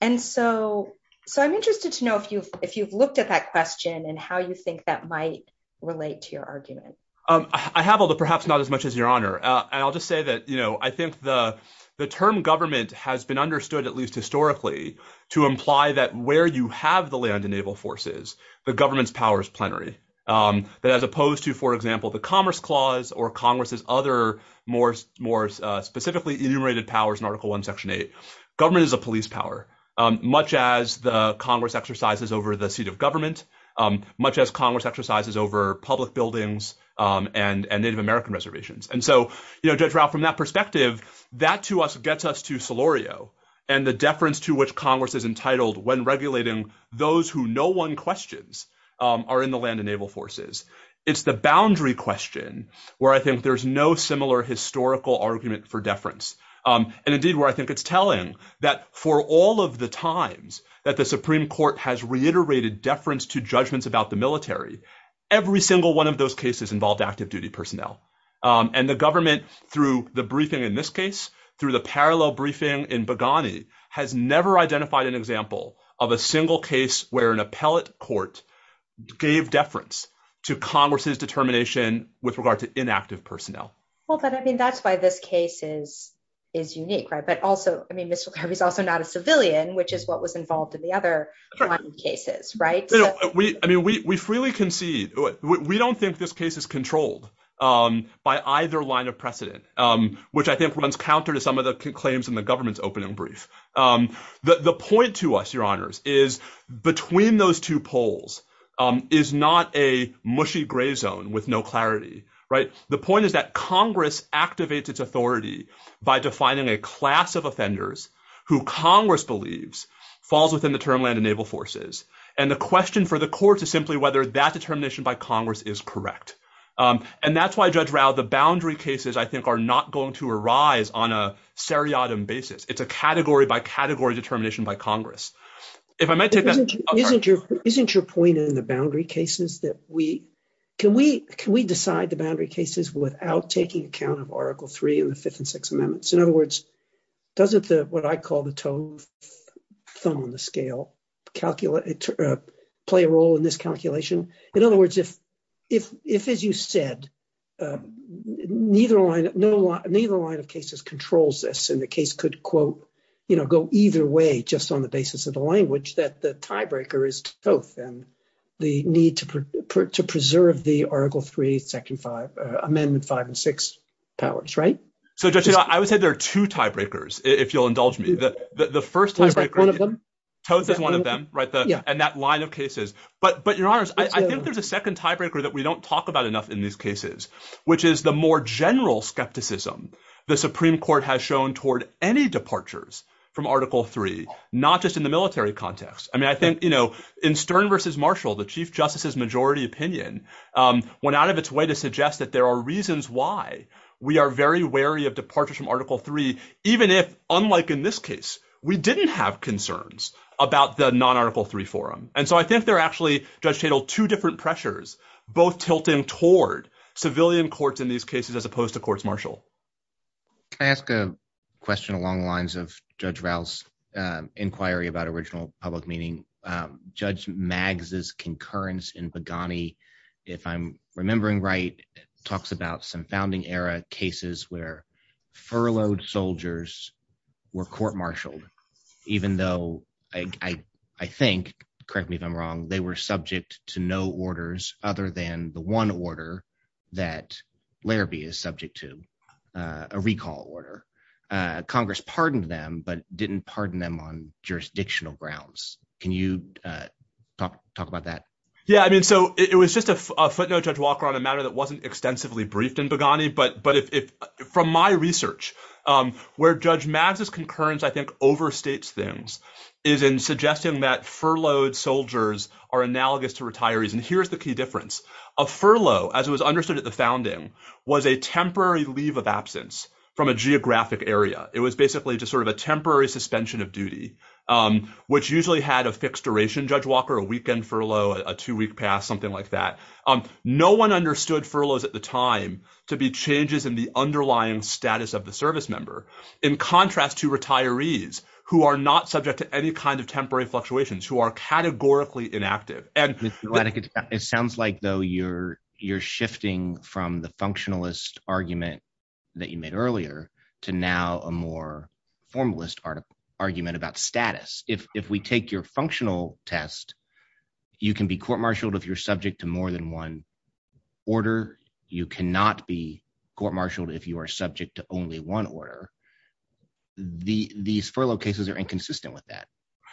And so, so I'm interested to know if you, if you've looked at that question and how you think that might relate to your argument. I have all the, perhaps not as much as your honor. And I'll just say that, you know, I think the, the term government has been understood at least historically to imply that where you have the land and naval forces, the government's powers plenary that as opposed to, for example, the commerce clause or Congress's other more, more specifically enumerated powers in article one, section eight, government is a police power, much as the Congress exercises over the seat of government, much as Congress exercises over public buildings and, and native American reservations. And so, you know, from that perspective, that to us gets us to Solorio and the deference to which Congress is entitled when regulating those who no one questions are in the land and naval forces. It's the boundary question where I think there's no similar historical argument for deference. And indeed where I think it's telling that for all of the times that the Supreme court has reiterated deference to judgments about the military, every single one of those cases involved active duty personnel and the government through the briefing in this case, through the parallel briefing in Bogani has never identified an example of a single case where an appellate court gave deference to Congress's determination with regard to inactive personnel. Well, but I mean, that's why this case is, is unique, right? But also, I mean, this is also not a civilian, which is what was involved in the other cases, right? We, I mean, we, we freely concede. We don't think this case is controlled by either line of precedent, which I think runs counter to some of the claims in the government's opening brief. The point to us, your honors, is between those two polls is not a mushy gray zone with no clarity, right? The point is that Congress activates its authority by defining a class of offenders who Congress believes falls within the term land and naval forces. And the question for the courts is simply whether that determination by Congress is correct. And that's why judge route, the boundary cases, I think are not going to arise on a seriatim basis. It's a category by category determination by Congress. Isn't your point in the boundary cases that we, can we, can we decide the boundary cases without taking account of article three and the fifth and six amendments? In other words, doesn't the, what I call the tone, some of the scale calculate play a role in this calculation. In other words, if, if, if, as you said, neither line, no law, neither line of cases controls this. And the case could quote, you know, go either way just on the basis of the language that the tiebreaker is both them. The need to put to preserve the article three, second five amendment five and six hours, right? So just, you know, I would say there are two tiebreakers if you'll indulge me that the first one of them, one of them, right. And that line of cases, but, but your honors, I think there's a second tiebreaker that we don't talk about enough in these cases, which is the more general skepticism. The Supreme court has shown toward any departures from article three, not just in the military context. I mean, I think, you know, in Stern versus Marshall, the chief justice's majority opinion went out of its way to suggest that there are reasons why we are very wary of departure from article three, even if unlike in this case, we didn't have concerns about the non article three forum. And so I think they're actually two different pressures, both tilting toward civilian courts in these cases, as opposed to courts Marshall. Can I ask a question along the lines of judge Val's inquiry about original public meeting judge mags is concurrence in Pagani. If I'm remembering right, talks about some founding era cases where furloughed soldiers were court marshaled, even though I, I, I think correct me if I'm wrong, they were subject to no orders other than the one order that Larabee is subject to a recall order. Congress pardoned them, but didn't pardon them on jurisdictional grounds. Can you talk about that? Yeah. I mean, so it was just a footnote judge Walker on a matter that wasn't extensively briefed in Pagani, but, but if, if from my research, where judge masses concurrence, I think overstates things is in suggesting that furloughed soldiers are analogous to retirees. And here's the key difference. A furlough as it was understood at the founding was a temporary leave of absence from a geographic area. It was basically just sort of a temporary suspension of duty, which usually had a fixed duration, judge Walker, a weekend, furlough, a two week pass, something like that. No one understood furloughs at the time to be changes in the underlying status of the service member in contrast to retirees who are not subject to any kind of temporary fluctuations who are categorically inactive. It sounds like though you're, you're shifting from the functionalist argument that you made earlier to now a more formalist argument about status. If, if we take your functional test, you can be court-martialed if you're subject to more than one order, you cannot be court-martialed if you are subject to only one order. The, these furlough cases are inconsistent with that.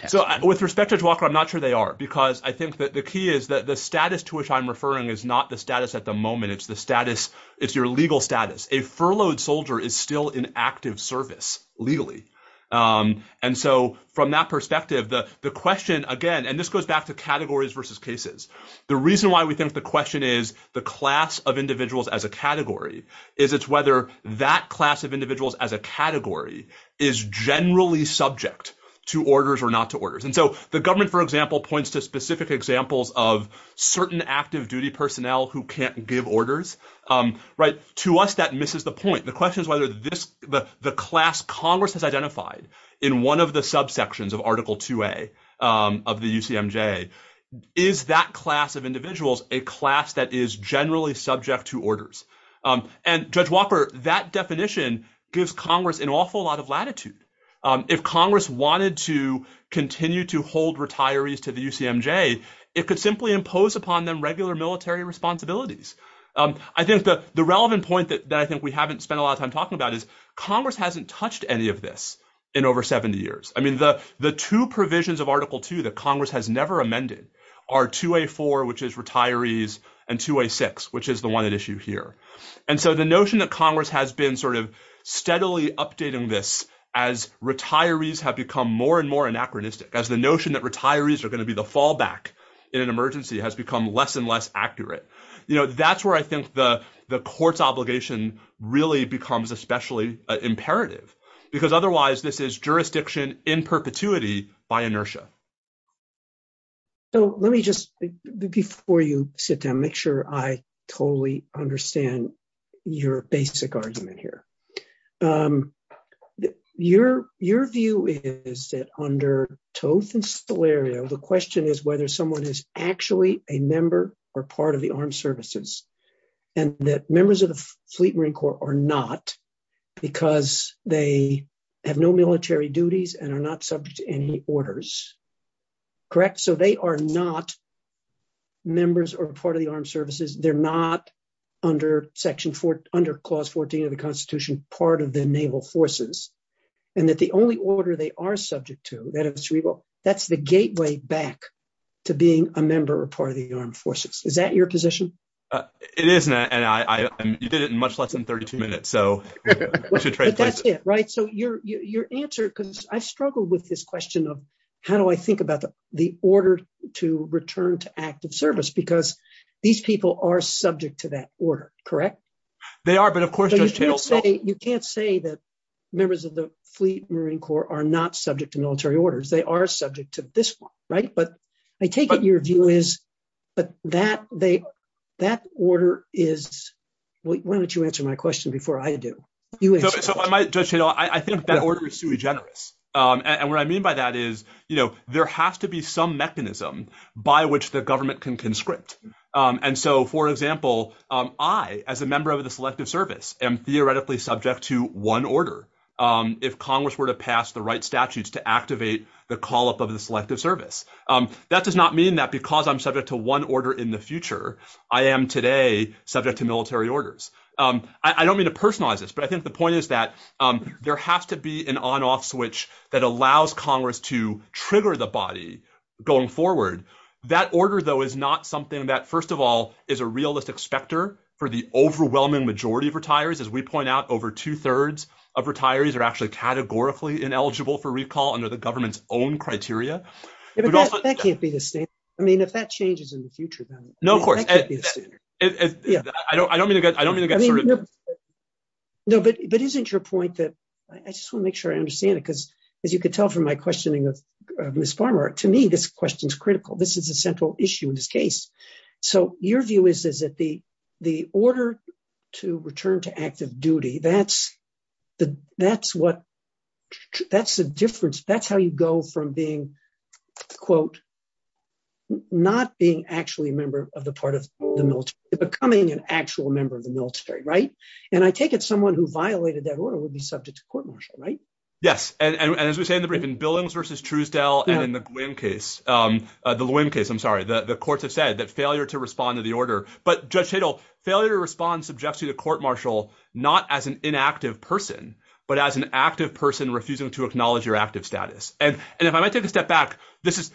So with respect to Walker, I'm not sure they are because I think that the key is that the status to which I'm referring is not the status at the moment. It's the status. It's your legal status. A furloughed soldier is still in active service legally. And so from that perspective, the, the question again, and this goes back to categories versus cases. The reason why we think the question is the class of individuals as a category is it's whether that class of individuals as a category is generally subject to orders or not to orders. And so the government, for example, points to specific examples of certain active duty personnel who can't give orders, right? To us, that misses the point. The question is whether this, the class Congress has identified in one of the subsections of article 2A of the UCMJ is that class of individuals, a class that is generally subject to orders. And judge Walker, that definition gives Congress an awful lot of latitude. If Congress wanted to continue to hold retirees to the UCMJ, it could simply impose upon them regular military responsibilities. I think the relevant point that I think we haven't spent a lot of time talking about is Congress hasn't touched any of this in over 70 years. I mean, the two provisions of article two that Congress has never amended are 2A4, which is retirees and 2A6, which is the one at issue here. And so the notion that Congress has been sort of steadily updating this as retirees have become more and more anachronistic as the notion that retirees are going to be the fallback in an emergency has become less and less accurate. You know, that's where I think the court's obligation really becomes especially imperative because otherwise this is jurisdiction in perpetuity by inertia. So let me just, before you sit down, make sure I totally understand your basic argument here. Your view is that under Toth and Solerio, the question is whether someone is actually a member or part of the armed services and that members of the fleet Marine Corps are not because they have no military duties and are not subject to any orders, correct? So they are not members or part of the armed services. They're not under clause 14 of the constitution, part of the naval forces and that the only order they are subject to, that's the gateway back to being a member or part of the armed forces. Is that your position? It is Matt and I did it in much less than 32 minutes. So that's it, right? So your answer, because I've struggled with this question of how do I think about the order to return to active service? Because these people are subject to that order, correct? They are, but of course, you can't say that members of the fleet Marine Corps are not subject to military orders. They are subject to this one, right? But I take it your view is, but that they, that order is, why don't you answer my question before I do? I think that order is too generous. And what I mean by that is, you know, there has to be some mechanism by which the government can conscript. And so, for example, I as a member of the selective service am theoretically subject to one order. If Congress were to pass the right statutes to activate the call up of the selective service, that does not mean that because I'm subject to one order in the future, I am today subject to military orders. I don't mean to personalize this, but I think the point is that there has to be an on-off switch that allows Congress to trigger the body going forward. That order though is not something that, first of all, is a realist expector for the overwhelming majority of retirees. As we point out, over two thirds of retirees are actually categorically ineligible for recall under the government's own criteria. That can't be the same. I mean, if that changes in the future. No, of course. I don't mean to get, I don't mean to get. No, but isn't your point that I just want to make sure I understand it. Cause as you could tell from my questioning of Ms. Farmer, to me, this question is critical. This is a central issue in this case. So your view is that the, the order to return to active duty, that's the, that's what, that's the difference. That's how you go from being quote, not being actually a member of the part of the military, becoming an actual member of the military. Right. And I take it someone who violated that order will be subject to court martial. Right. Yes. And as we say in the briefing, Billings versus Truesdell, and in the Gwinn case, the Gwinn case, I'm sorry. The courts have said that failure to respond to the order, but judge fatal failure to respond subjects you to court martial, not as an inactive person, but as an active person refusing to acknowledge your active status. And if I might take a step back, this is,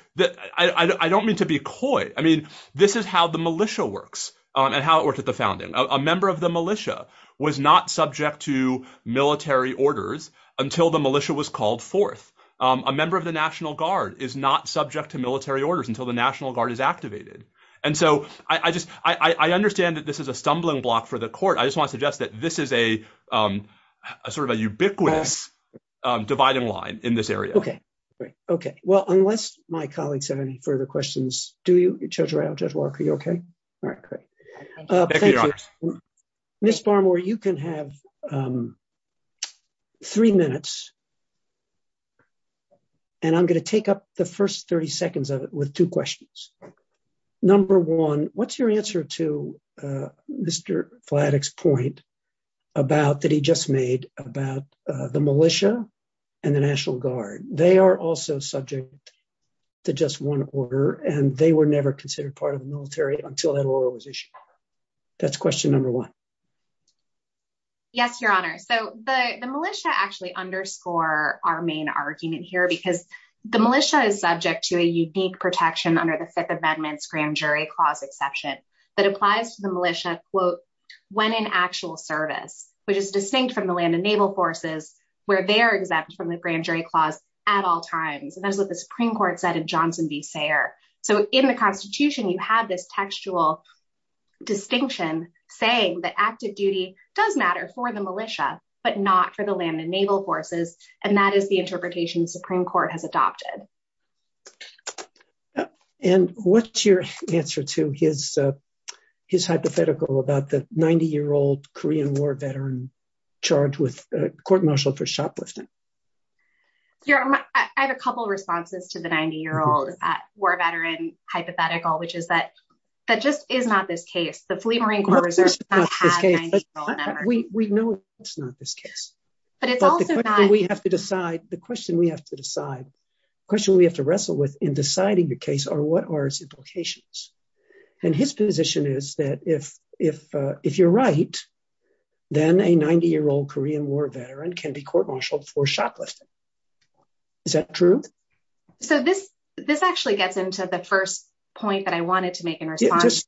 I don't mean to be coy. I mean, this is how the militia works and how it works at the founding. A member of the militia was not subject to military orders until the militia was called forth. A member of the national guard is not subject to military orders until the national guard is activated. And so I just, I understand that this is a stumbling block for the court. I just want to suggest that this is a sort of a ubiquitous dividing line in this area. Okay. Great. Okay. Well, unless my colleagues have any further questions, do you, Judge Lark, are you okay? All right. Great. Ms. Farmer, you can have three minutes. And I'm going to take up the first 30 seconds of it with two questions. Number one, what's your answer to Mr. Plattick's point about that he just made about the militia and the national guard. They are also subject to just one order and they were never considered part of the military until that order was issued. That's question number one. Yes, Your Honor. So the militia actually underscore our main argument here because the militia is subject to a unique protection under the Fifth Amendment's grand jury clause exception that applies to the militia, quote, when in actual service, which is distinct from the land and naval forces where they're exempt from the grand jury clause at all times. And that's what the Supreme Court said in Johnson v. Sayre. So in the constitution, you have this textual distinction saying that active duty does matter for the militia, but not for the land and naval forces. And that is the interpretation Supreme Court has adopted. And what's your answer to his hypothetical about the 90-year-old Korean war veteran charged with court-martial for shoplifting? I have a couple of responses to the 90-year-old war veteran hypothetical, which is that that just is not this case. The Fleet Marine Corps Reserve does not have 90-year-old veterans. We know it's not this case. But the question we have to decide, the question we have to wrestle with in deciding the case are what are its implications? And his position is that if you're right, then a 90-year-old Korean war veteran can be court-martialed for shoplifting. Is that true? So this actually gets into the first point that I wanted to make in response.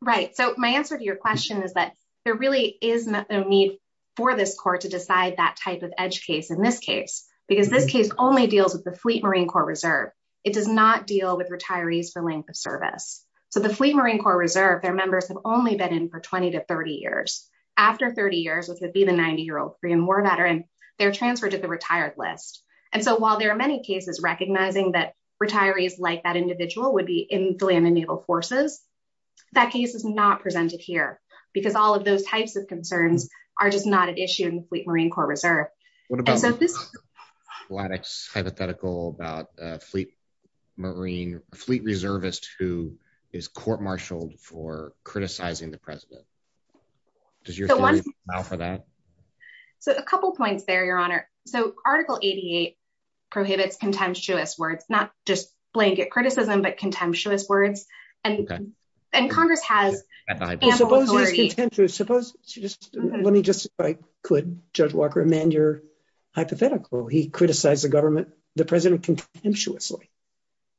Right. So my answer to your question is that there really is a need for this court to decide that type of edge case in this case, because this case only deals with the Fleet Marine Corps Reserve. It does not deal with retirees for length of service. So the Fleet Marine Corps Reserve, their members have only been in for 20 to 30 years. After 30 years, which would be the 90-year-old Korean war veteran, they're transferred to the retired list. And so while there are many cases recognizing that retirees are not retirees like that individual would be in the land and naval forces, that case is not presented here because all of those types of concerns are just not an issue in the Fleet Marine Corps Reserve. Why that's hypothetical about a Fleet Marine, a Fleet Reservist who is court-martialed for criticizing the president. Does your theory allow for that? So a couple of points there, Your Honor. So Article 88 prohibits contemptuous words, not just blanket criticism, but contemptuous words. And Congress has ample authority. Let me just, if I could, Judge Walker, amend your hypothetical. He criticized the government, the president, contemptuously.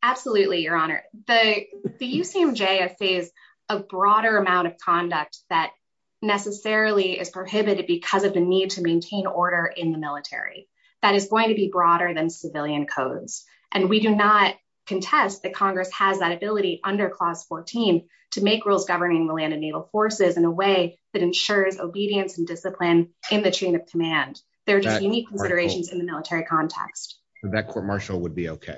Absolutely, Your Honor. The UCMJ has saved a broader amount of conduct that necessarily is military. That is going to be broader than civilian codes. And we do not contest that Congress has that ability under Clause 14 to make rules governing the land and naval forces in a way that ensures obedience and discipline in the chain of command. There are just unique considerations in the military context. So that court-martial would be okay?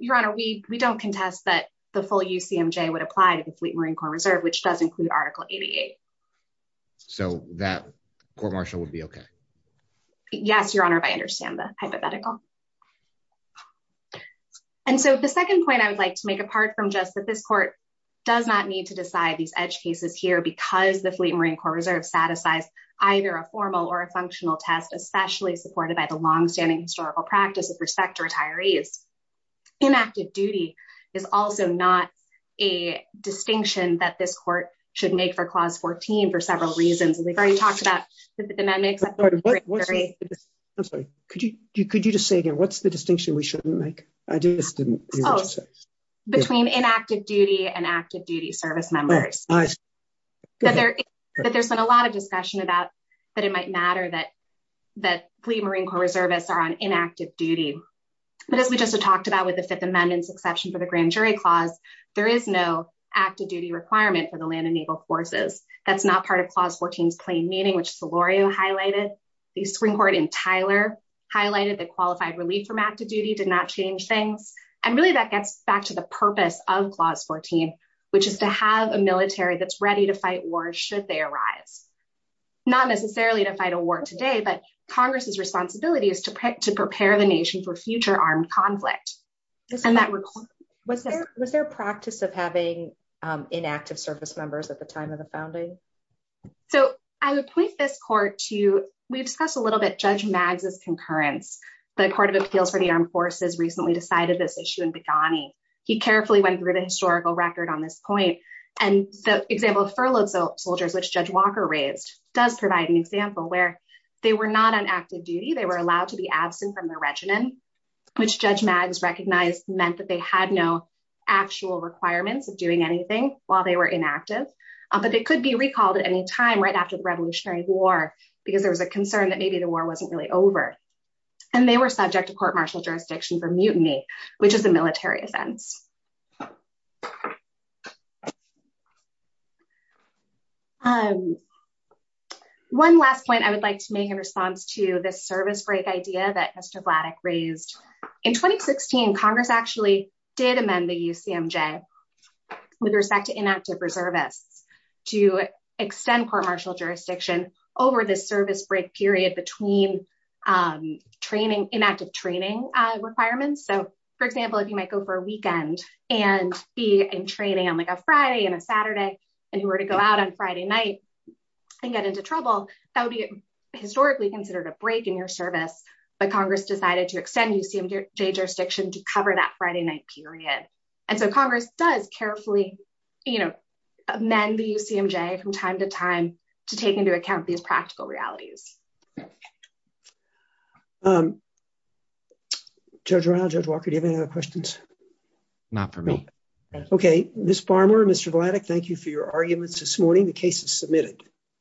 Your Honor, we don't contest that the full UCMJ would apply to the Fleet Marine Corps Reserve, which does include Article 88. So that court-martial would be okay? Yes, Your Honor, I understand the hypothetical. And so the second point I would like to make, apart from just that this court does not need to decide these edge cases here because the Fleet Marine Corps Reserve satisfies either a formal or a functional test, especially supported by the longstanding historical practice with respect to retirees. Inactive duty is also not a distinction that this court should make for Clause 14 for several reasons. We've already talked about the Fifth Amendment. Could you just say again, what's the distinction we shouldn't make? Between inactive duty and active duty service members. There's been a lot of discussion about that it might matter that Fleet Marine Corps Reservists are on inactive duty. But as we just talked about with the Fifth Amendment succession for the Grand Jury Clause, there is no active duty requirement for the land and naval forces. That's not part of Clause 14's plain meaning, which Delorio highlighted. The Supreme Court in Tyler highlighted that qualified relief from active duty did not change things. And really that gets back to the purpose of Clause 14, which is to have a military that's ready to fight wars should they arise. Not necessarily to fight a war today, but Congress's responsibility is to prepare the nation for future armed conflict. Was there a practice of having inactive service members at the time of the founding? So I would point this court to, we've discussed a little bit, Judge Maggs' concurrence. The Court of Appeals for the Armed Forces recently decided this issue in Begani. He carefully went through the historical record on this point. And the example of furloughed soldiers, which Judge Walker raised does provide an example where they were not on active duty. They were allowed to be absent from their regiments, which Judge Maggs recognized meant that they had no actual requirements of doing anything while they were inactive. But they could be recalled at any time right after the Revolutionary War because there was a concern that maybe the war wasn't really over. And they were subject to court martial jurisdiction for mutiny, which was a military event. One last point I would like to make in response to this service break idea that Mr. Vladeck raised. In 2016 Congress actually did amend the UCMJ with respect to inactive reservists to extend court martial jurisdiction over the service break period between training, inactive training requirements. So for example, if you might go for a weekend and be in training on like a Friday and a Saturday and you were to go out on Friday night and get into trouble, that would be historically considered a break in your service. But Congress decided to extend UCMJ jurisdiction to cover that Friday night period. And so Congress does carefully, you know, amend the UCMJ from time to time to take into account these practical realities. Judge Ronald, Judge Walker, do you have any other questions? Not for me. Okay. Ms. Farmer, Mr. Vladeck, thank you for your arguments this morning. The case is submitted.